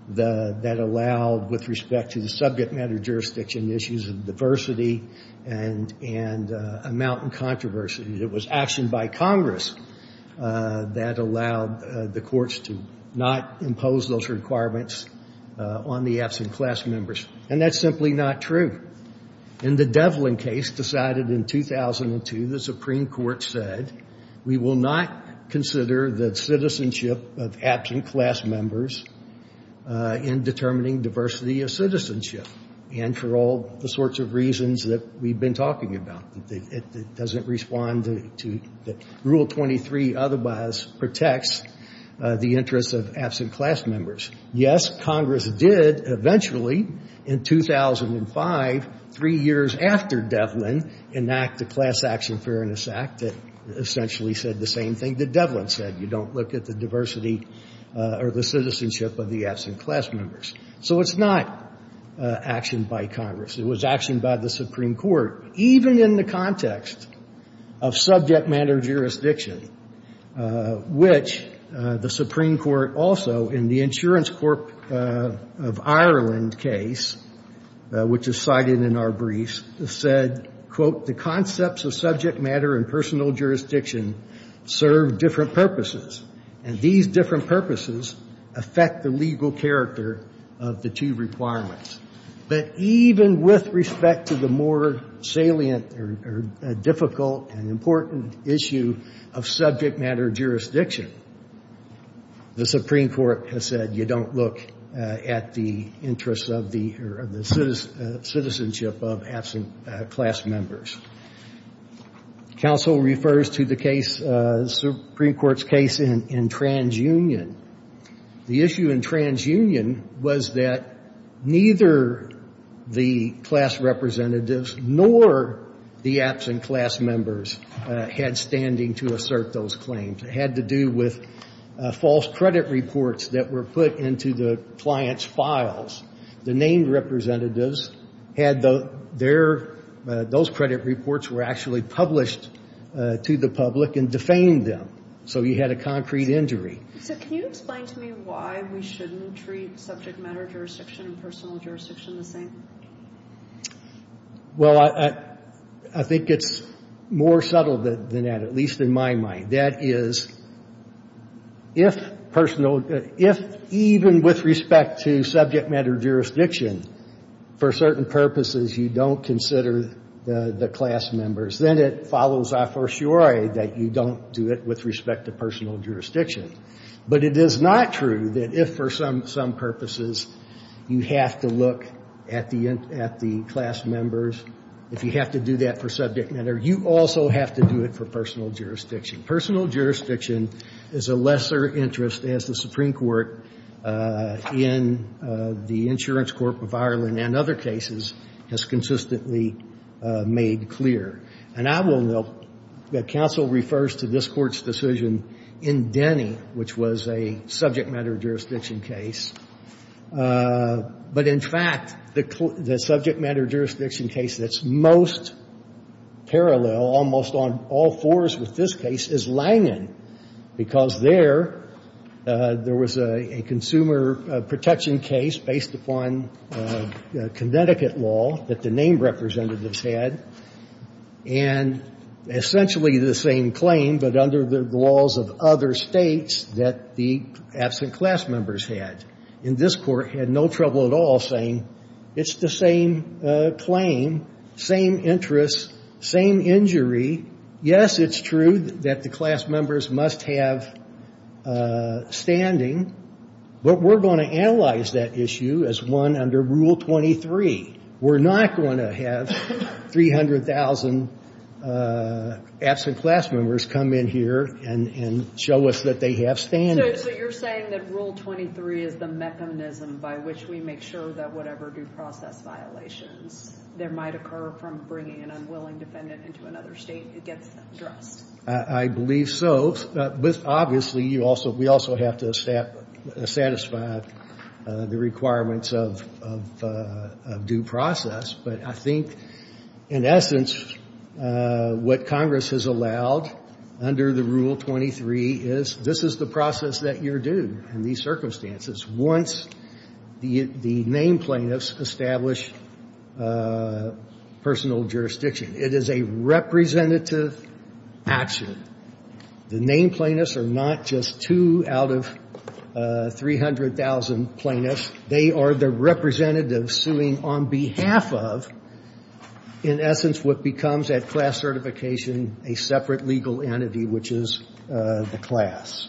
that allowed, with respect to the subject matter jurisdiction issues of diversity and amount and controversy, it was action by Congress that allowed the courts to not impose those requirements on the absent class members. And that's simply not true. In the Devlin case decided in 2002, the Supreme Court said, we will not consider the citizenship of absent class members in determining diversity of citizenship. And for all the sorts of reasons that we've been talking about, it doesn't respond to that Rule 23 otherwise protects the interest of absent class members. Yes, Congress did eventually, in 2005, three years after Devlin, enact the Class Action Fairness Act that essentially said the same thing that Devlin said. You don't look at the diversity or the citizenship of the absent class members. So it's not action by Congress. It was action by the Supreme Court, even in the context of subject matter jurisdiction, which the Supreme Court also, in the Insurance Corp of Ireland case, which is cited in our briefs, said, quote, the concepts of subject matter and personal jurisdiction serve different purposes. And these different purposes affect the legal character of the two requirements. But even with respect to the more salient or difficult and important issue of subject matter jurisdiction, the Supreme Court has said you don't look at the interests of the citizenship of absent class members. Counsel refers to the Supreme Court's case in TransUnion. The issue in TransUnion was that neither the class representatives nor the absent class members had standing to assert those claims. It had to do with false credit reports that were put into the client's files. The named representatives had their, those credit reports were actually published to the public and defamed them. So you had a concrete injury. Can you explain to me why we shouldn't treat subject matter jurisdiction and personal jurisdiction the same? Well, I think it's more subtle than that, at least in my mind. That is, if personal, if even with respect to subject matter jurisdiction, for certain purposes you don't consider the class members, then it follows our fortiori that you don't do it with respect to personal jurisdiction. But it is not true that if for some purposes you have to look at the class members, if you have to do that for subject matter, you also have to do it for personal jurisdiction. Personal jurisdiction is a lesser interest as the Supreme Court in the Insurance Court of Ireland and other cases has consistently made clear. And I will note that counsel refers to this court's decision in Denny, which was a subject matter jurisdiction case. But in fact, the subject matter jurisdiction case that's most parallel, almost on all fours with this case, is Langdon. Because there, there was a consumer protection case based upon Connecticut law that the name representatives had, and essentially the same claim, but under the laws of other states that the absent class members had. And this court had no trouble at all saying it's the same claim, same interest, same injury. Yes, it's true that the class members must have standing, but we're going to analyze that issue as one under Rule 23. We're not going to have 300,000 absent class members come in here and show us that they have standing. So you're saying that Rule 23 is the mechanism by which we make sure that whatever due process violations there might occur from bringing an unwilling defendant into another state gets addressed. I believe so. But obviously, you also, we also have to satisfy the requirements of due process. But I think, in essence, what Congress has allowed under the Rule 23 is this is the process that you're due in these circumstances. Once the name plaintiffs establish personal jurisdiction, it is a representative action. The name plaintiffs are not just two out of 300,000 plaintiffs. They are the representatives suing on behalf of, in essence, what becomes at class certification a separate legal entity, which is the class.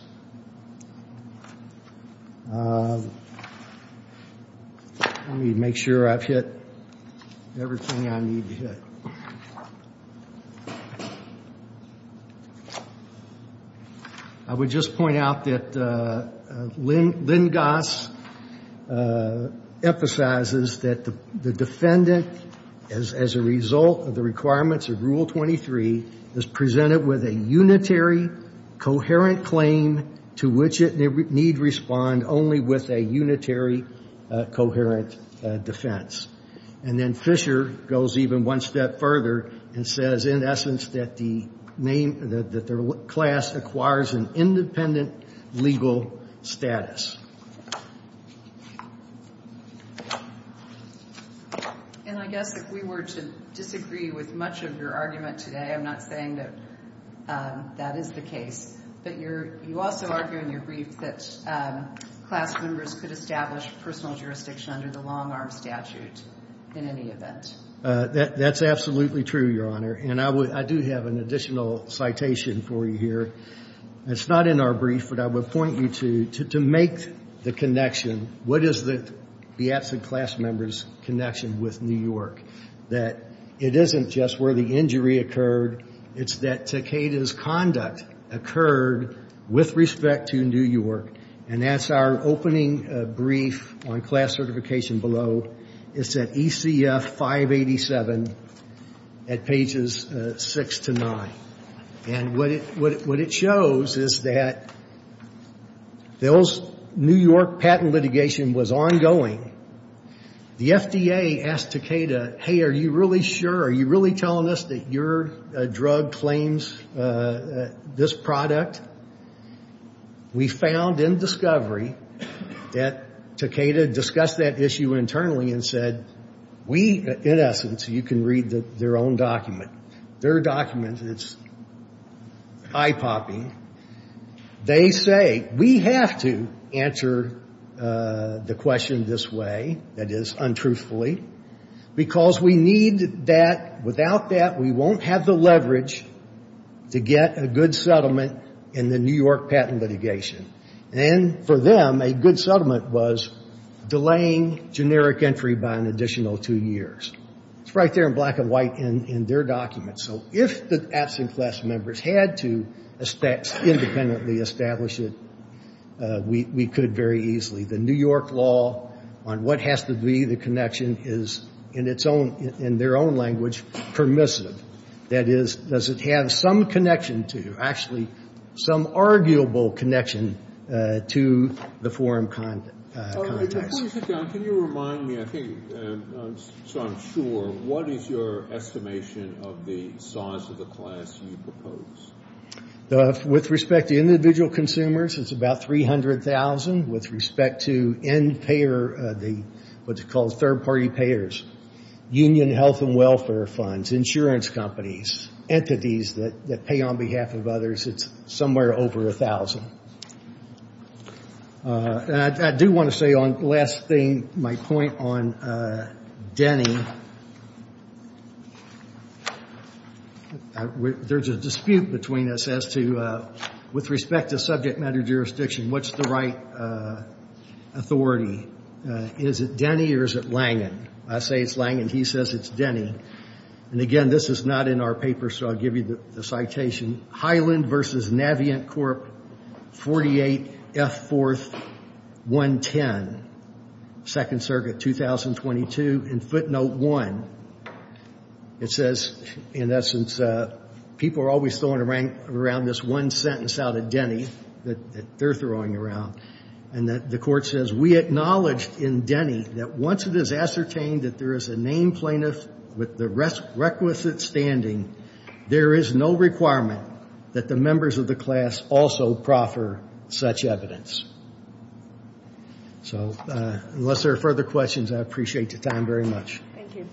Let me make sure I've hit everything I need to hit. I would just point out that Lynn Goss emphasizes that the defendant, as a result of the requirements of Rule 23, is presented with a unitary, coherent claim to which it needs to respond only with a unitary, coherent defense. And then Fisher goes even one step further and says, in essence, that the class acquires an independent legal status. And I guess if we were to disagree with much of your argument today, I'm not saying that that is the case, but you also argue in your brief that class members could establish personal jurisdiction under the long-arm statute in any event. That's absolutely true, Your Honor. And I do have an additional citation for you here. It's not in our brief, but I would point you to make the connection. What is the absent class member's connection with New York? That it isn't just where the injury occurred, it's that Takeda's conduct occurred with respect to New York. And that's our opening brief on class certification below. It's at ECF 587 at pages 6 to 9. And what it shows is that Phil's New York patent litigation was ongoing. The FDA asked Takeda, hey, are you really sure? Are you really telling us that your drug claims this product? We found in discovery that Takeda discussed that issue internally and said, in essence, you can read their own document. Their document is eye-popping. They say, we have to answer the question this way, that is, untruthfully, because we need that. Without that, we won't have the leverage to get a good settlement in the New York patent litigation. And for them, a good settlement was delaying generic entry by an additional two years. It's right there in black and white in their document. So if the absent class members had to independently establish it, we could very easily. The New York law on what has to be the connection is, in their own language, permissive. That is, does it have some connection to, actually, some arguable connection to the forum context. Can you remind me, I think, so I'm sure, what is your estimation of the size of the class you propose? With respect to individual consumers, it's about 300,000. With respect to end-payer, what's called third-party payers, union health and welfare funds, insurance companies, entities that pay on behalf of others, it's somewhere over 1,000. I do want to say, on the last thing, my point on Denny. There's a dispute between us as to, with respect to subject matter jurisdiction, what's the right authority? Is it Denny or is it Langen? I say it's Langen. He says it's Denny. And again, this is not in our paper, so I'll give you the citation. Highland v. Navient Corp., 48 F. 4th, 110, 2nd Circuit, 2022, in footnote 1. It says, in essence, people are always throwing around this one sentence out of Denny that they're throwing around. And the court says, we acknowledge in Denny that once it is ascertained that there is a named plaintiff with the requisite standing, there is no requirement that the members of the class also proffer such evidence. So, unless there are further questions, I appreciate your time very much. Thank you.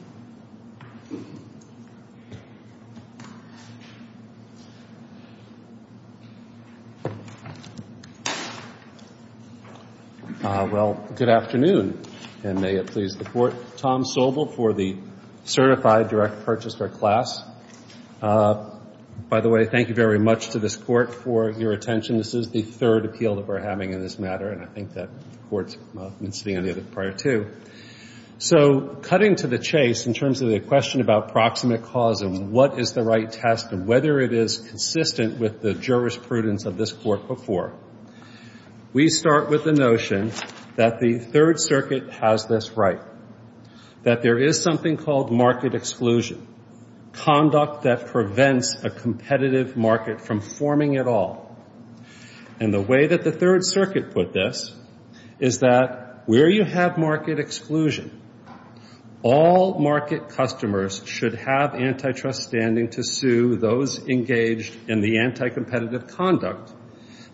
Well, good afternoon, and may it please the court. Tom Sobel for the certified direct purchaser class. By the way, thank you very much to this court for your attention. This is the third appeal that we're having in this matter, and I think that court's been sitting on the other part, too. So, cutting to the chase in terms of the question about proximate cause and what is the right test and whether it is consistent with the jurisprudence of this court before, we start with the notion that the Third Circuit has this right, that there is something called market exclusion, conduct that prevents a competitive market from forming at all. And the way that the Third Circuit put this is that where you have market exclusion, all market customers should have antitrust standing to sue those engaged in the anticompetitive conduct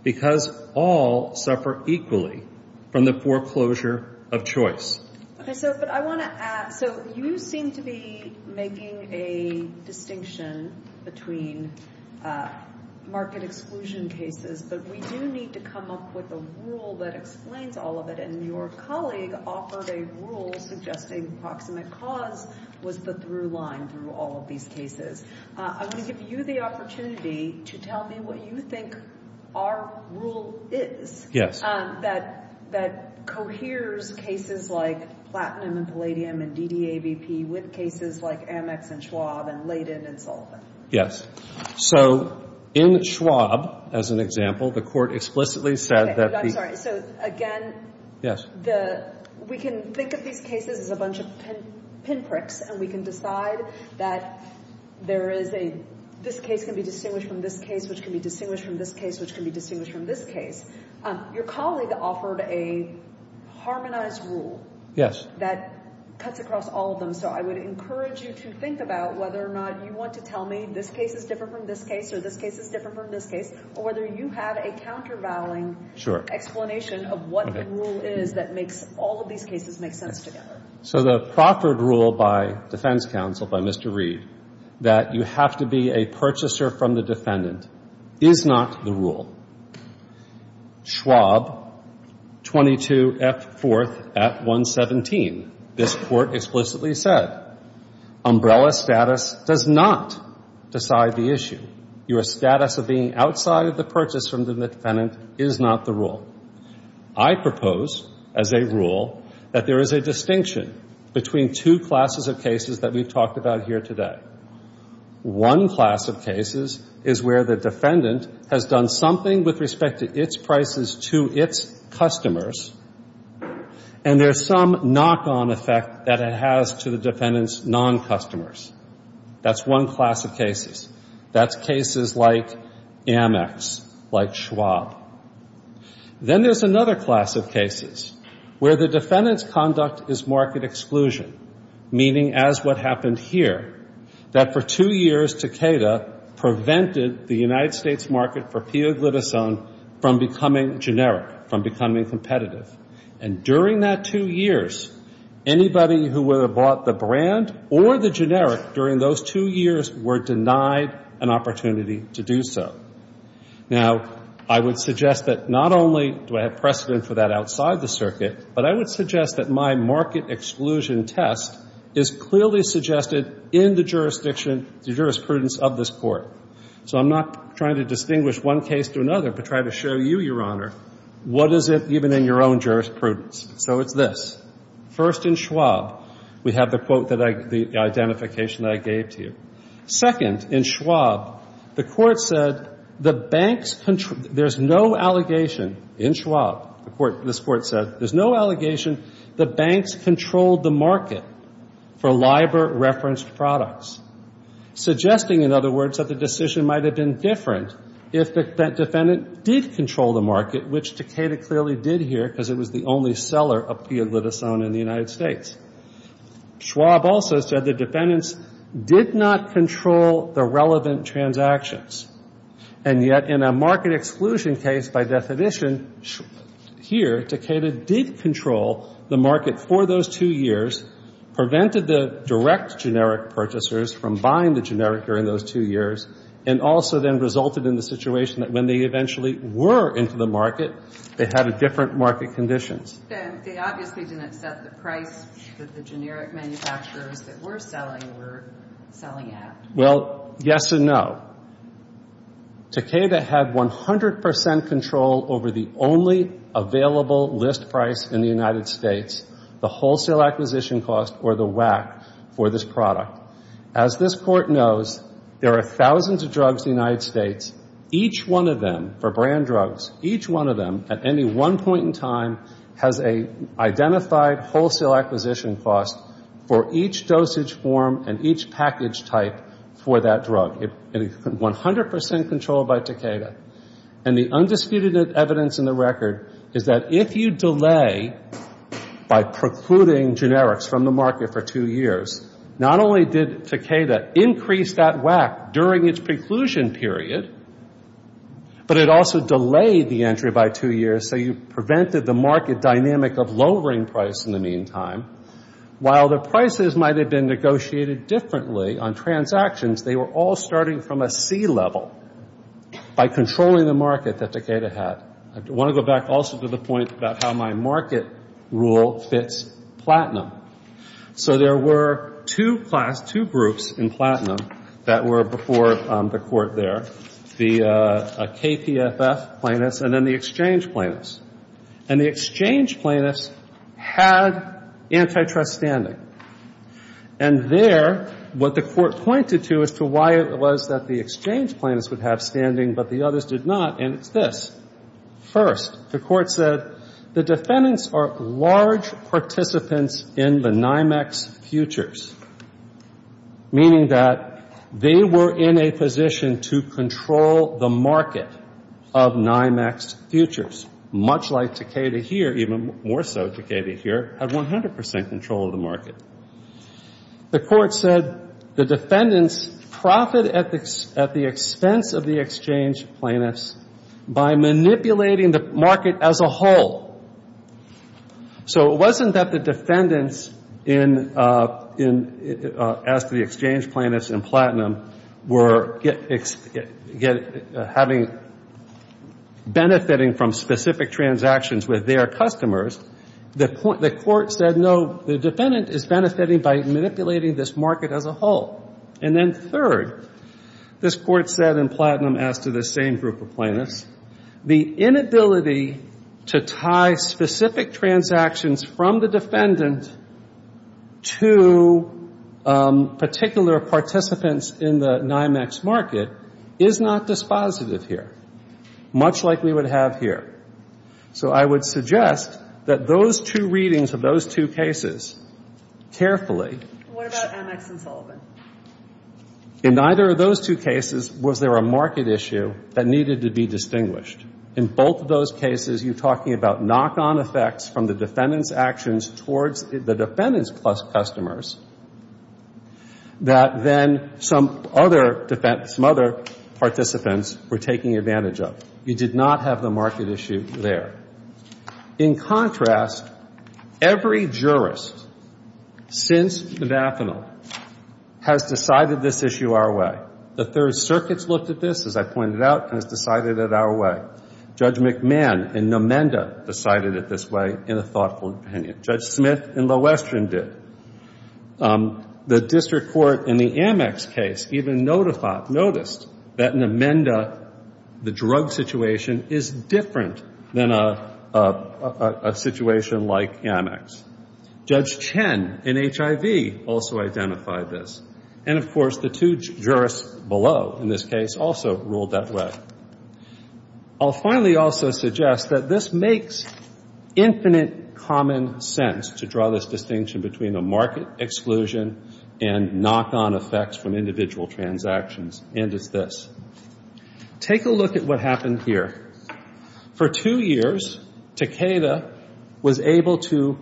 because all suffer equally from the foreclosure of choice. Okay, sir, but I want to ask, so you seem to be making a distinction between market exclusion cases, but we do need to come up with a rule that explains all of it, and your colleague offered a rule suggesting proximate cause was the through line through all of these cases. I want to give you the opportunity to tell me what you think our rule is. Yes. That coheres cases like Platinum and Palladium and DDAVP with cases like Amex and Schwab and Leydig and Sullivan. Yes. So, in Schwab, as an example, the court explicitly said that... I'm sorry. So, again, we can think of these cases as a bunch of pinpricks, and we can decide that this case can be distinguished from this case, which can be distinguished from this case, which can be distinguished from this case. Your colleague offered a harmonized rule that cuts across all of them, so I would encourage you to think about whether or not you want to tell me this case is different from this case or this case is different from this case, or whether you have a countervailing explanation of what the rule is that makes all of these cases make sense together. So, the proffered rule by defense counsel, by Mr. Reeve, that you have to be a purchaser from the defendant is not the rule. Schwab, 22F4F117, this court explicitly said, umbrella status does not decide the issue. Your status of being outside of the purchase from the defendant is not the rule. I propose, as a rule, that there is a distinction between two classes of cases that we've talked about here today. One class of cases is where the defendant has done something with respect to its prices to its customers, and there's some knock-on effect that it has to the defendant's non-customers. That's one class of cases. That's cases like Amex, like Schwab. Then there's another class of cases where the defendant's conduct is market exclusion, meaning, as what happened here, that for two years Takeda prevented the United States market for P. O. Glitisone from becoming generic, from becoming competitive. And during that two years, anybody who would have bought the brand or the generic during those two years were denied an opportunity to do so. Now, I would suggest that not only do I have precedent for that outside the circuit, but I would suggest that my market exclusion test is clearly suggested in the jurisprudence of this court. So I'm not trying to distinguish one case from another. I'm trying to show you, Your Honor, what is it even in your own jurisprudence. So it's this. First, in Schwab, we have the identification that I gave to you. Second, in Schwab, the court said, there's no allegation in Schwab, this court said, there's no allegation that banks controlled the market for LIBOR-referenced products, suggesting, in other words, that the decision might have been different if that defendant did control the market, which Takeda clearly did here, because it was the only seller of Pia Glutasone in the United States. Schwab also said the defendants did not control the relevant transactions. And yet, in a market exclusion case, by definition, here, Takeda did control the market for those two years, prevented the direct generic purchasers from buying the generic during those two years, and also then resulted in the situation that when they eventually were into the market, they had a different market condition. They obviously didn't set the price because the generic manufacturers that were selling were selling at. Well, yes and no. Takeda had 100% control over the only available list price in the United States, the wholesale acquisition cost, or the WAC, for this product. As this court knows, there are thousands of drugs in the United States. Each one of them, for brand drugs, each one of them, at any one point in time, has an identified wholesale acquisition cost for each dosage form and each package type for that drug. It is 100% controlled by Takeda. And the undisputed evidence in the record is that if you delay, by precluding generics from the market for two years, not only did Takeda increase that WAC during its preclusion period, but it also delayed the entry by two years, so you prevented the market dynamic of lowering price in the meantime. While the prices might have been negotiated differently on transactions, they were all starting from a C level by controlling the market that Takeda had. I want to go back also to the point about how my market rule fits platinum. So there were two groups in platinum that were before the court there, the KPFF plaintiffs and then the exchange plaintiffs. And the exchange plaintiffs had antitrust standing. And there, what the court pointed to as to why it was that the exchange plaintiffs would have standing but the others did not, and it's this. First, the court said the defendants are large participants in the NYMEX futures, meaning that they were in a position to control the market of NYMEX futures, much like Takeda here, even more so Takeda here, had 100% control of the market. The court said the defendants profit at the extent of the exchange plaintiffs by manipulating the market as a whole. So it wasn't that the defendants, as the exchange plaintiffs in platinum, were benefiting from specific transactions with their customers. The court said, no, the defendant is benefiting by manipulating this market as a whole. And then third, this court said in platinum after the same group of plaintiffs, the inability to tie specific transactions from the defendant to particular participants in the NYMEX market is not dispositive here, much like we would have here. So I would suggest that those two readings of those two cases carefully. What about NYMEX and Sullivan? In neither of those two cases was there a market issue that needed to be distinguished. In both of those cases, you're talking about knock-on effects from the defendant's actions towards the defendants plus customers that then some other participants were taking advantage of. You did not have the market issue there. In contrast, every jurist since Badafinal has decided this issue our way. The Third Circuit's looked at this, as I pointed out, and has decided it our way. Judge McMahon in Nomenda decided it this way in a thoughtful opinion. Judge Smith in Lowestern did. The district court in the NYMEX case even noticed that Nomenda, the drug situation, is different than a situation like NYMEX. Judge Chen in HIV also identified this. And, of course, the two jurists below in this case also ruled that way. I'll finally also suggest that this makes infinite common sense to draw this distinction between a market exclusion and knock-on effects from individual transactions. And it's this. Take a look at what happened here. For two years, Takeda was able to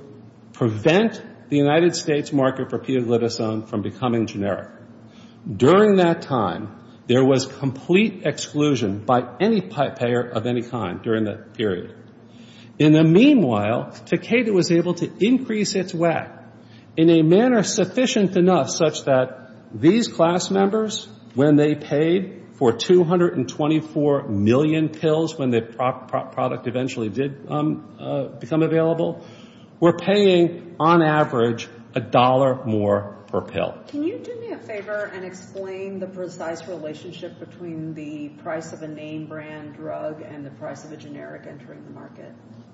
prevent the United States market for pioglitazone from becoming generic. During that time, there was complete exclusion by any payer of any kind during that period. In the meanwhile, Takeda was able to increase its WAC in a manner sufficient enough such that these class members, when they paid for 224 million pills when the product eventually did become available, were paying, on average, a dollar more per pill. Can you do me a favor and explain the precise relationship between the price of a name brand drug and the price of a generic entering the market?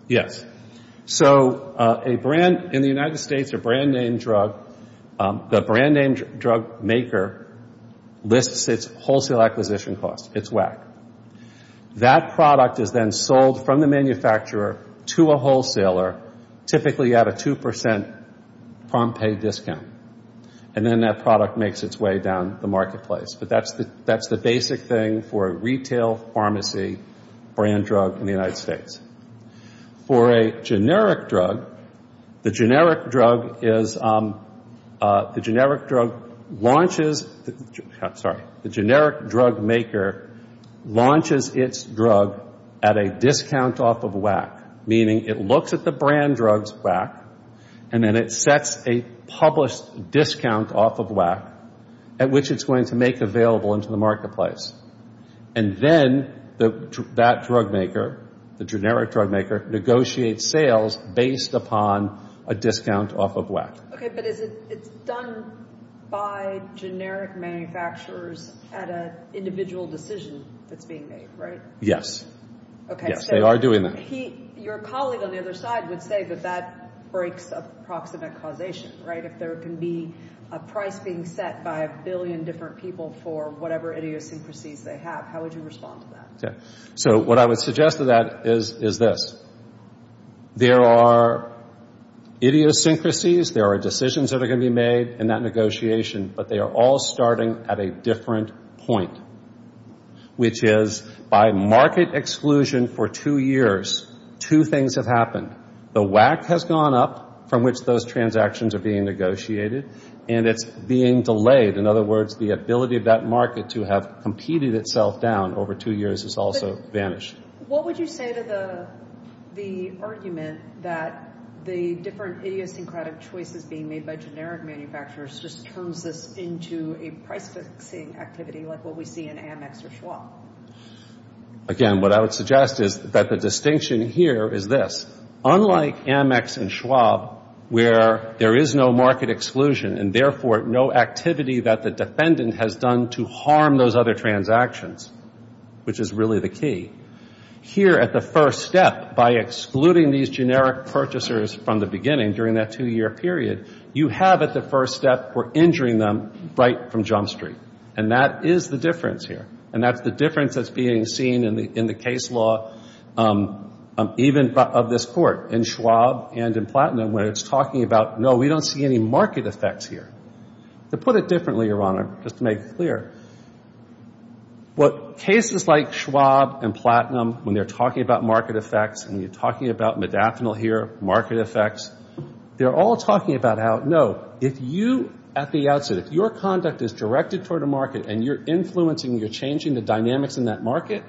Yes. So, in the United States, a brand name drug, the brand name drug maker lists its wholesale acquisition cost, its WAC. That product is then sold from the manufacturer to a wholesaler, typically at a 2% farm pay discount. And then that product makes its way down the marketplace. But that's the basic thing for a retail pharmacy brand drug in the United States. For a generic drug, the generic drug launches its drug at a discount off of WAC, meaning it looks at the brand drug's WAC and then it sets a published discount off of WAC at which it's going to make available into the marketplace. And then that drug maker, the generic drug maker, negotiates sales based upon a discount off of WAC. Okay, but it's done by generic manufacturers at an individual decision that's being made, right? Yes. Okay. Yes, they are doing that. Your colleague on the other side would say that that breaks a proximate causation, right? If there can be a price being set by a billion different people for whatever idiosyncrasies they have, how would you respond to that? So what I would suggest to that is this. There are idiosyncrasies, there are decisions that are going to be made in that negotiation, but they are all starting at a different point, which is by market exclusion for two years, two things have happened. The WAC has gone up from which those transactions are being negotiated and it's being delayed. In other words, the ability of that market to have competed itself down over two years has also vanished. What would you say to the argument that the different idiosyncratic choices being made by generic manufacturers just turns this into a price-seeing activity like what we see in AMEX or Schwab? Again, what I would suggest is that the distinction here is this. Unlike AMEX and Schwab, where there is no market exclusion and therefore no activity that the defendant has done to harm those other transactions, which is really the key, here at the first step, by excluding these generic purchasers from the beginning during that two-year period, you have at the first step were injuring them right from Jump Street. And that is the difference here. And that's the difference that's being seen in the case law, even of this court, in Schwab and in Platinum, where it's talking about, no, we don't see any market effects here. To put it differently, Your Honor, just to make it clear, what cases like Schwab and Platinum, when they're talking about market effects, and you're talking about Medafinil here, market effects, they're all talking about how, no, if you, at the outset, if your conduct is directed toward a market and you're influencing, you're changing the dynamics in that market,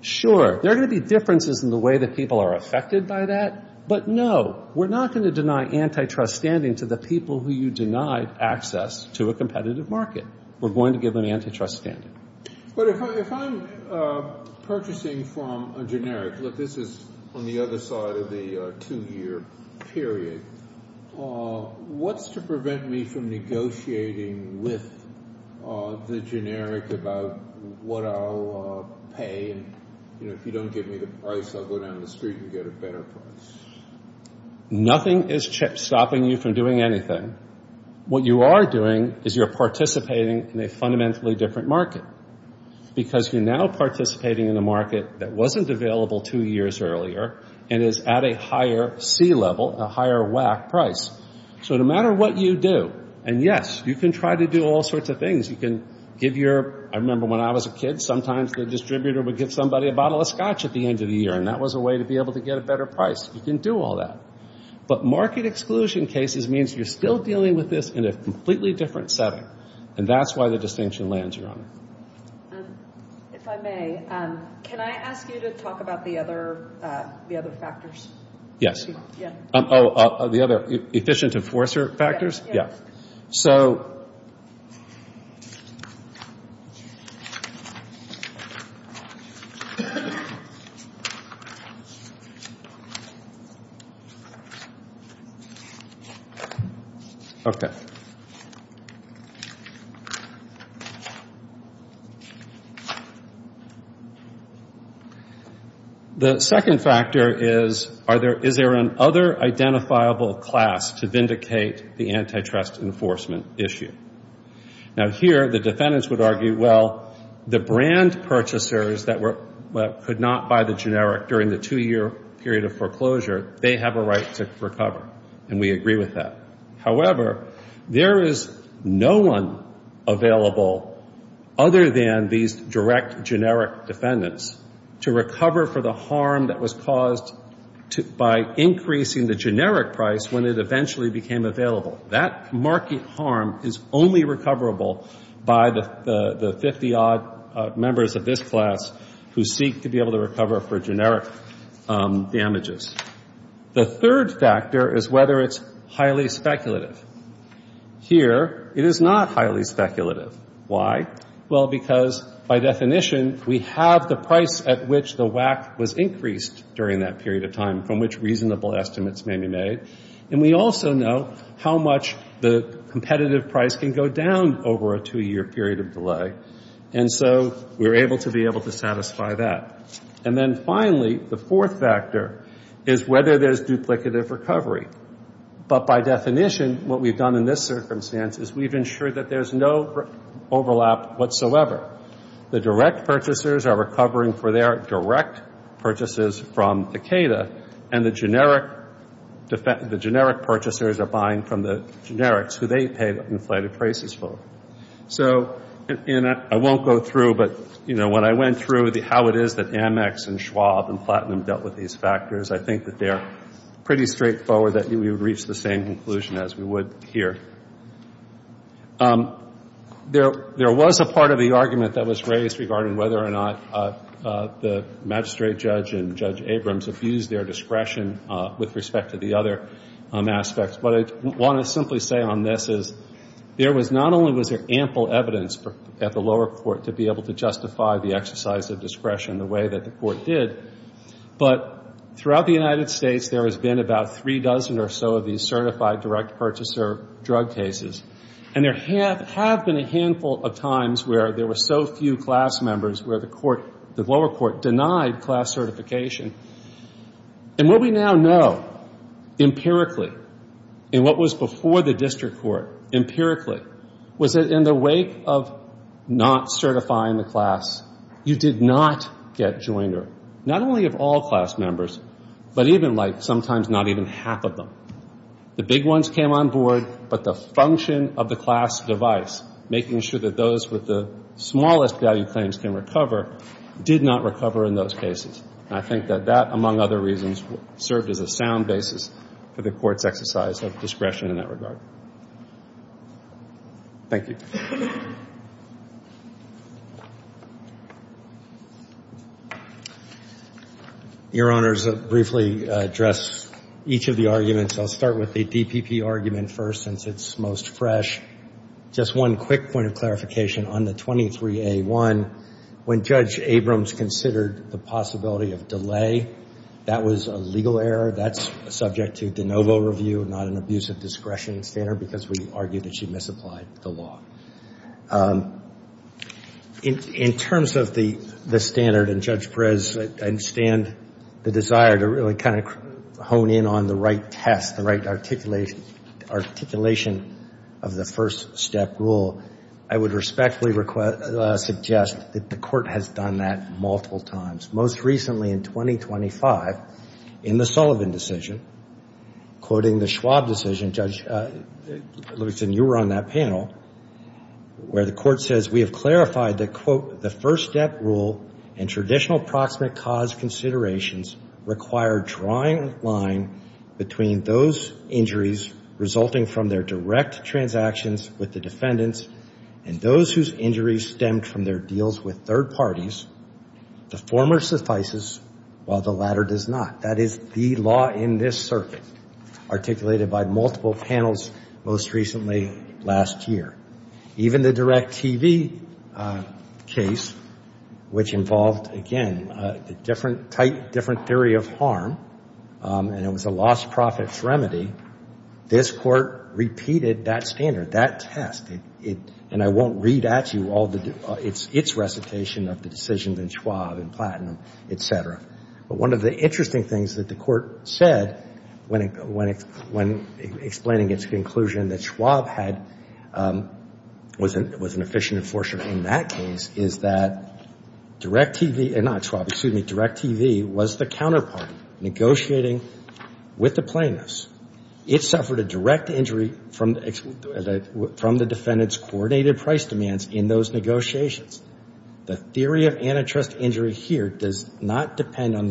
sure, there are going to be differences in the way that people are affected by that, but no, we're not going to deny antitrust standing to the people who you deny access to a competitive market. We're going to give them antitrust standing. But if I'm purchasing from a generic, look, this is on the other side of the two-year period, what's to prevent me from negotiating with the generic about what I'll pay, and if you don't give me the price, I'll go down the street and get a better price? Nothing is stopping you from doing anything. What you are doing is you're participating in a fundamentally different market, because you're now participating in a market that wasn't available two years earlier and is at a higher C level, a higher WAC price. So no matter what you do, and yes, you can try to do all sorts of things. You can give your, I remember when I was a kid, sometimes the distributor would give somebody a bottle of scotch at the end of the year, and that was a way to be able to get a better price. You can do all that. But market exclusion cases means you're still dealing with this in a completely different setting, and that's why the distinction lands you on it. If I may, can I ask you to talk about the other factors? Oh, the other efficient enforcer factors? Yes. So... Okay. Okay. The second factor is, is there an other identifiable class to vindicate the antitrust enforcement issue? Now here, the defendants would argue, well, the brand purchasers that could not buy the generic during the two-year period of foreclosure, they have a right to recover, and we agree with that. However, there is no one available other than these direct generic defendants to recover for the harm that was caused by increasing the generic price when it eventually became available. That market harm is only recoverable by the 50-odd members of this class who seek to be able to recover for generic damages. The third factor is whether it's highly speculative. Here, it is not highly speculative. Why? Well, because by definition, we have the price at which the WAC was increased during that period of time from which reasonable estimates may be made, and we also know how much the competitive price can go down over a two-year period of delay, and so we're able to be able to satisfy that. And then finally, the fourth factor is whether there's duplicative recovery. But by definition, what we've done in this circumstance is we've ensured that there's no overlap whatsoever. The direct purchasers are recovering for their direct purchases from ACADA, and the generic purchasers are buying from the generics, who they pay inflated prices for. So I won't go through, but when I went through how it is that Amex and Schwab and Platinum dealt with these factors, I think that they're pretty straightforward that we would reach the same conclusion as we would here. There was a part of the argument that was raised regarding whether or not the magistrate judge and Judge Abrams abused their discretion with respect to the other aspects, but I want to simply say on this is there was not only was there ample evidence at the lower court to be able to justify the exercise of discretion the way that the court did, but throughout the United States there has been about three dozen or so of these certified direct purchaser drug cases, and there have been a handful of times where there were so few class members where the lower court denied class certification. And what we now know empirically, and what was before the district court empirically, was that in the wake of not certifying the class, you did not get joiner. Not only of all class members, but even like sometimes not even half of them. The big ones came on board, but the function of the class device, making sure that those with the smallest value claims can recover, did not recover in those cases. And I think that that, among other reasons, served as a sound basis for the court's exercise of discretion in that regard. Thank you. Your Honors, I'll briefly address each of the arguments. I'll start with the DPP argument first since it's most fresh. Just one quick point of clarification on the 23A1, when Judge Abrams considered the possibility of delay, that was a legal error. That's subject to de novo review, not an abuse of discretion standard because we argued that she misapplied the law. In terms of the standard, and Judge Perez, I understand the desire to really kind of hone in on the right test, the right articulation of the first step rule. I would respectfully suggest that the court has done that multiple times. Most recently in 2025, in the Sullivan decision, quoting the Schwab decision, Judge Lewison, you were on that panel, where the court says, we have clarified that, quote, the first step rule and traditional proximate cause considerations require drawing a line between those injuries resulting from their direct transactions with the defendants and those whose injuries stemmed from their deals with third parties. The former suffices while the latter does not. That is the law in this circuit, articulated by multiple panels most recently last year. Even the direct TV case, which involved, again, a different type, different theory of harm, and it was a lost profit remedy, this court repeated that standard, that test. And I won't read out to you all its recitation of the decisions in Schwab and Platten, et cetera. But one of the interesting things that the court said when explaining its conclusion that Schwab was an efficient enforcer in that case is that direct TV, not Schwab, excuse me, direct TV was the counterpart negotiating with the plaintiffs. It suffered a direct injury from the defendant's coordinated price demands in those negotiations. The theory of antitrust injury here does not depend on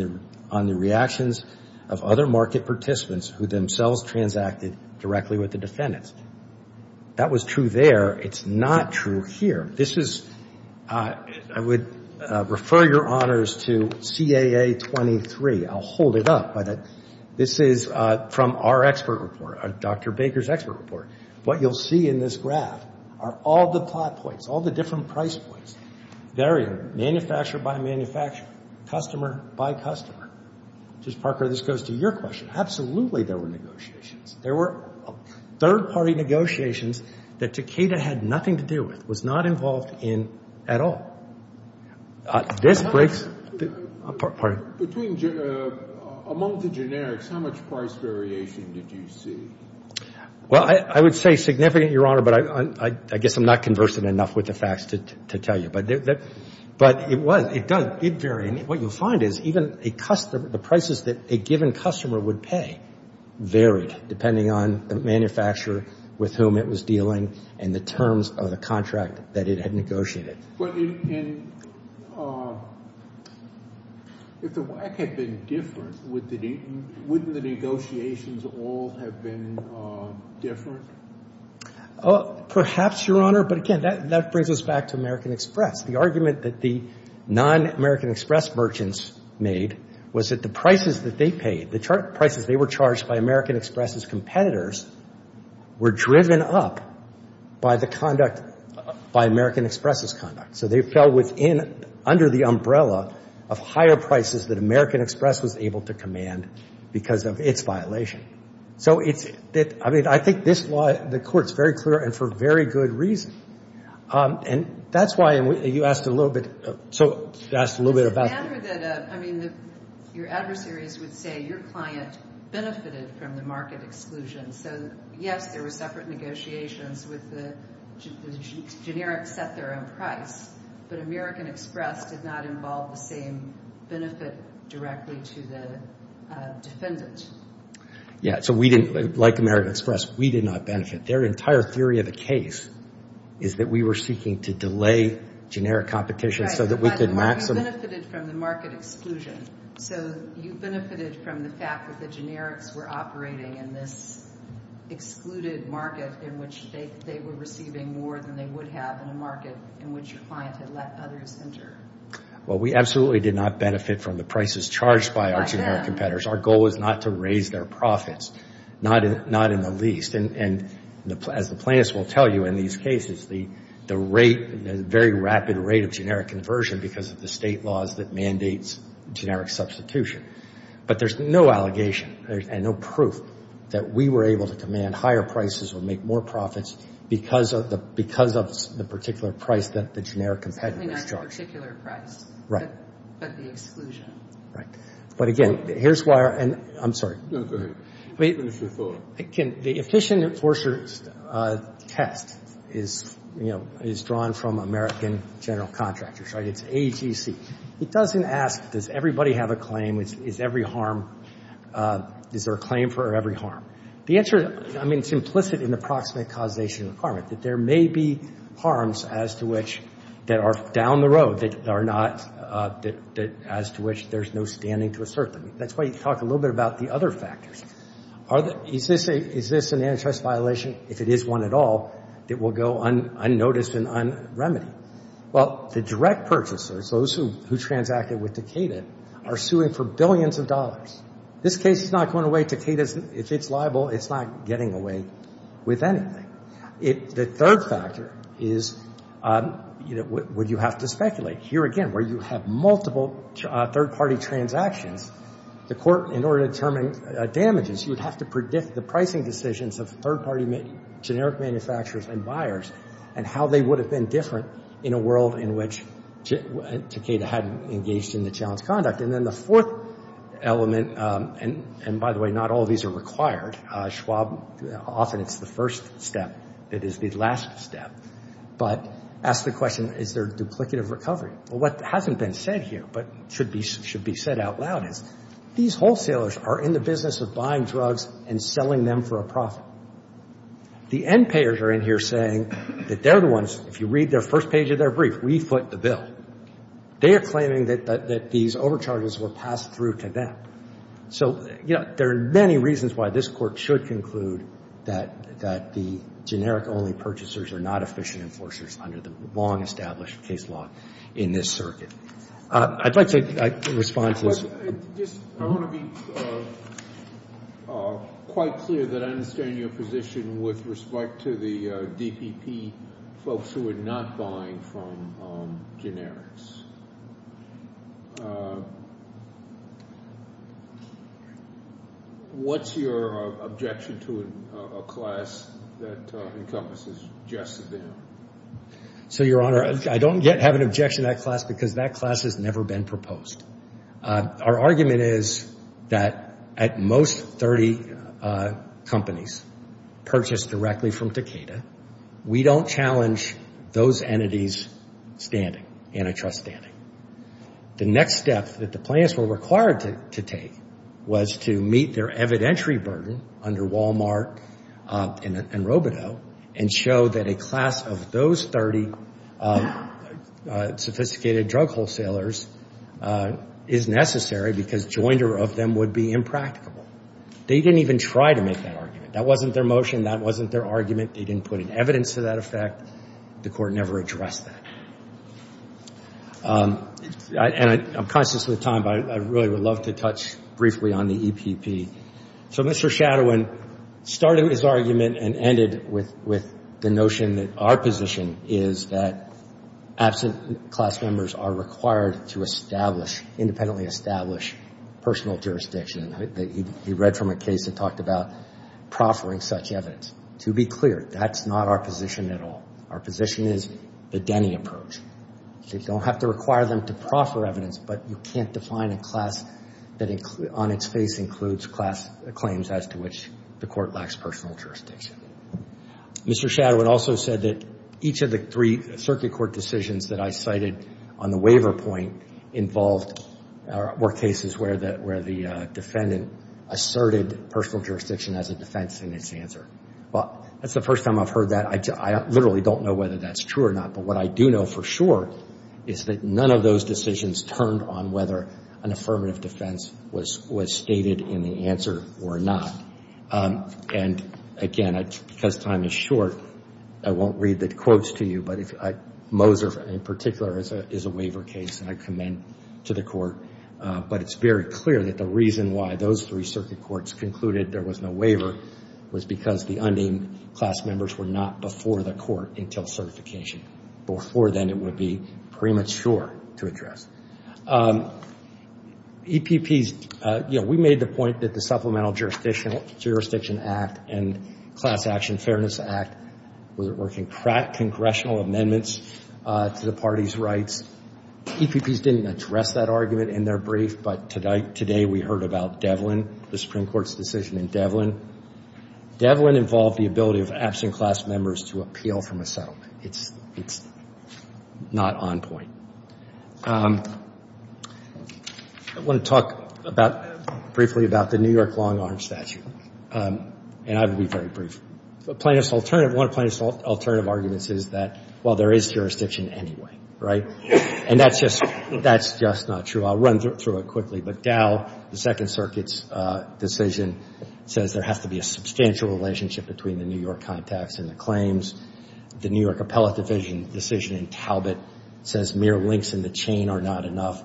the reactions of other market participants who themselves transacted directly with the defendants. That was true there. It's not true here. This is, I would refer your honors to CAA 23. I'll hold it up, but this is from our expert report, Dr. Baker's expert report. What you'll see in this graph are all the plot points, all the different price points. Manufacturer by manufacturer, customer by customer. Ms. Parker, this goes to your question. Absolutely there were negotiations. There were third-party negotiations that Takeda had nothing to do with, was not involved in at all. This breaks, pardon? Between, among the generics, how much price variation did you see? Well, I would say significant, your honor, but I guess I'm not conversant enough with the facts to tell you. But it was, it varied. What you'll find is even the prices that a given customer would pay varied, depending on the manufacturer with whom it was dealing and the terms of the contract that it had negotiated. If the WACC had been different, wouldn't the negotiations all have been different? Perhaps, your honor, but again, that brings us back to American Express. The argument that the non-American Express merchants made was that the prices that they paid, the prices they were charged by American Express's competitors were driven up by the conduct, by American Express's conduct. So they fell within, under the umbrella of higher prices that American Express was able to command because of its violation. So it, I mean, I think this law, the court's very clear and for very good reason. And that's why you asked a little bit, so you asked a little bit about. Your adversaries would say your client benefited from the market exclusion. So, yes, there were separate negotiations with the generic set their own price, but American Express did not involve the same benefit directly to the defendant. Yeah, so we didn't, like American Express, we did not benefit. Their entire theory of the case is that we were seeking to delay generic competition so that we could maximize. You benefited from the market exclusion. So you benefited from the fact that the generics were operating in this excluded market in which they were receiving more than they would have in a market in which your client had let others enter. Well, we absolutely did not benefit from the prices charged by our generic competitors. Our goal was not to raise their profits, not in the least. And as the plaintiffs will tell you in these cases, the rate, the very rapid rate of generic conversion because of the state laws that mandates generic substitution. But there's no allegation and no proof that we were able to demand higher prices or make more profits because of the particular price that the generic competitors charged. I mean, not the particular price. Right. But the exclusion. Right. But again, here's why, and I'm sorry. No, go ahead. Wait a minute before. So the efficient enforcer test is, you know, is drawn from American general contractors, right? It's AGC. It doesn't ask, does everybody have a claim? Is every harm, is there a claim for every harm? The answer, I mean, it's implicit in the proximate causation of harm, that there may be harms as to which that are down the road that are not, that as to which there's no standing to assert them. That's why you talk a little bit about the other factors. Is this an antitrust violation? If it is one at all, it will go unnoticed and unremedied. Well, the direct purchasers, those who transacted with Takeda, are suing for billions of dollars. This case is not going away. Takeda, if it's liable, it's not getting away with anything. The third factor is what you have to speculate. Here again, where you have multiple third-party transactions, the court, in order to determine damages, you would have to predict the pricing decisions of third-party generic manufacturers and buyers and how they would have been different in a world in which Takeda hadn't engaged in the challenge conduct. And then the fourth element, and by the way, not all of these are required. Schwab, often it's the first step that is the last step. But ask the question, is there duplicative recovery? Well, what hasn't been said here, but should be said out loud, is these wholesalers are in the business of buying drugs and selling them for a profit. The end payers are in here saying that they're the ones, if you read their first page of their brief, refoot the bill. They are claiming that these overcharges were passed through to them. There are many reasons why this court should conclude that the generic-only purchasers are not efficient enforcers under the long-established case law in this circuit. I'd like to respond to this. I want to be quite clear that I understand your position with respect to the DPP folks who are not buying from generics. What's your objection to a class that encompasses just them? So, Your Honor, I don't yet have an objection to that class because that class has never been proposed. Our argument is that at most 30 companies purchased directly from Takeda, we don't challenge those entities' standing, antitrust standing. The next step that the plaintiffs were required to take was to meet their evidentiary burden under Walmart and Robito and show that a class of those 30 sophisticated drug wholesalers is necessary because joinder of them would be impractical. They didn't even try to make that argument. That wasn't their motion. That wasn't their argument. They didn't put in evidence to that effect. The court never addressed that. I'm conscious of the time, but I really would love to touch briefly on the EPP. So, Mr. Shadowin started his argument and ended it with the notion that our position is that absent class members are required to establish, independently establish, personal jurisdiction. He read from a case that talked about proffering such evidence. To be clear, that's not our position at all. Our position is the Denny approach. They don't have to require them to proffer evidence, but you can't define a class that on its face includes claims as to which the court lacks personal jurisdiction. Mr. Shadowin also said that each of the three circuit court decisions that I cited on the waiver point involved cases where the defendant asserted personal jurisdiction as a defense in his answer. Well, that's the first time I've heard that. I literally don't know whether that's true or not, but what I do know for sure is that none of those decisions turned on whether an affirmative defense was stated in the answer or not. And, again, because time is short, I won't read the quotes to you, but Moser, in particular, is a waiver case, and I commend to the court. But it's very clear that the reason why those three circuit courts concluded there was no waiver was because the unnamed class members were not before the court until certification. Before then, it would be premature to address. EPPs, you know, we made the point that the Supplemental Jurisdiction Act and Class Action Fairness Act were congressional amendments to the party's rights. EPPs didn't address that argument in their brief, but today we heard about Devlin, the Supreme Court's decision in Devlin. Devlin involved the ability of absent class members to appeal from a settlement. It's not on point. I want to talk briefly about the New York long-arm statute, and I will be very brief. One plaintiff's alternative argument is that, well, there is jurisdiction anyway, right? And that's just not true. I'll run through it quickly, but Dow, the Second Circuit's decision, says there has to be a substantial relationship between the New York contacts and the claims. The New York Appellate Division decision in Talbot says mere links in the chain are not enough.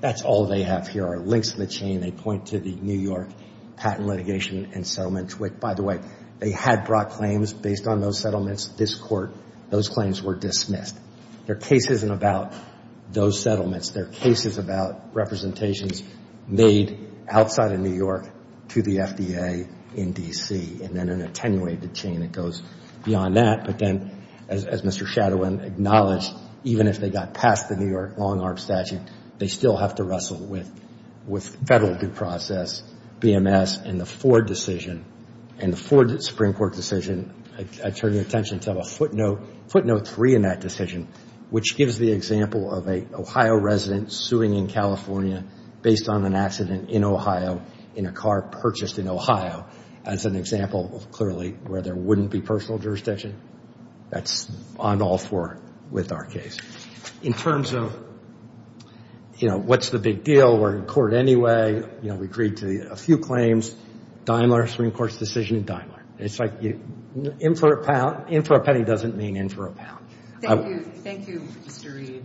That's all they have here are links in the chain. They point to the New York patent litigation and settlement. By the way, they had brought claims based on those settlements to this court. Those claims were dismissed. Their case isn't about those settlements. Their case is about representations made outside of New York to the FDA in D.C., and then an attenuated chain that goes beyond that. But then, as Mr. Shadowin acknowledged, even if they got past the New York long-arm statute, they still have to wrestle with federal due process, BMS, and the Ford decision. And the Ford Supreme Court decision, I turn your attention to a footnote, footnote 3 in that decision, which gives the example of an Ohio resident suing in California based on an accident in Ohio in a car purchased in Ohio as an example of clearly where there wouldn't be personal jurisdiction. That's on all four with our case. In terms of, you know, what's the big deal? We're in court anyway. You know, we agreed to a few claims. Daimler, Supreme Court's decision, Daimler. It's like in for a penny doesn't mean in for a pound. Thank you. Thank you, Mr. Reed.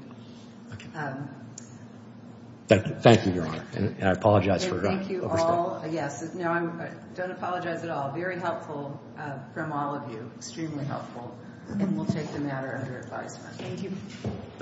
Thank you, Your Honor. And I apologize for that. Thank you all. Yes. No, I don't apologize at all. Very helpful from all of you. Extremely helpful. And we'll take a matter of your time. Thank you.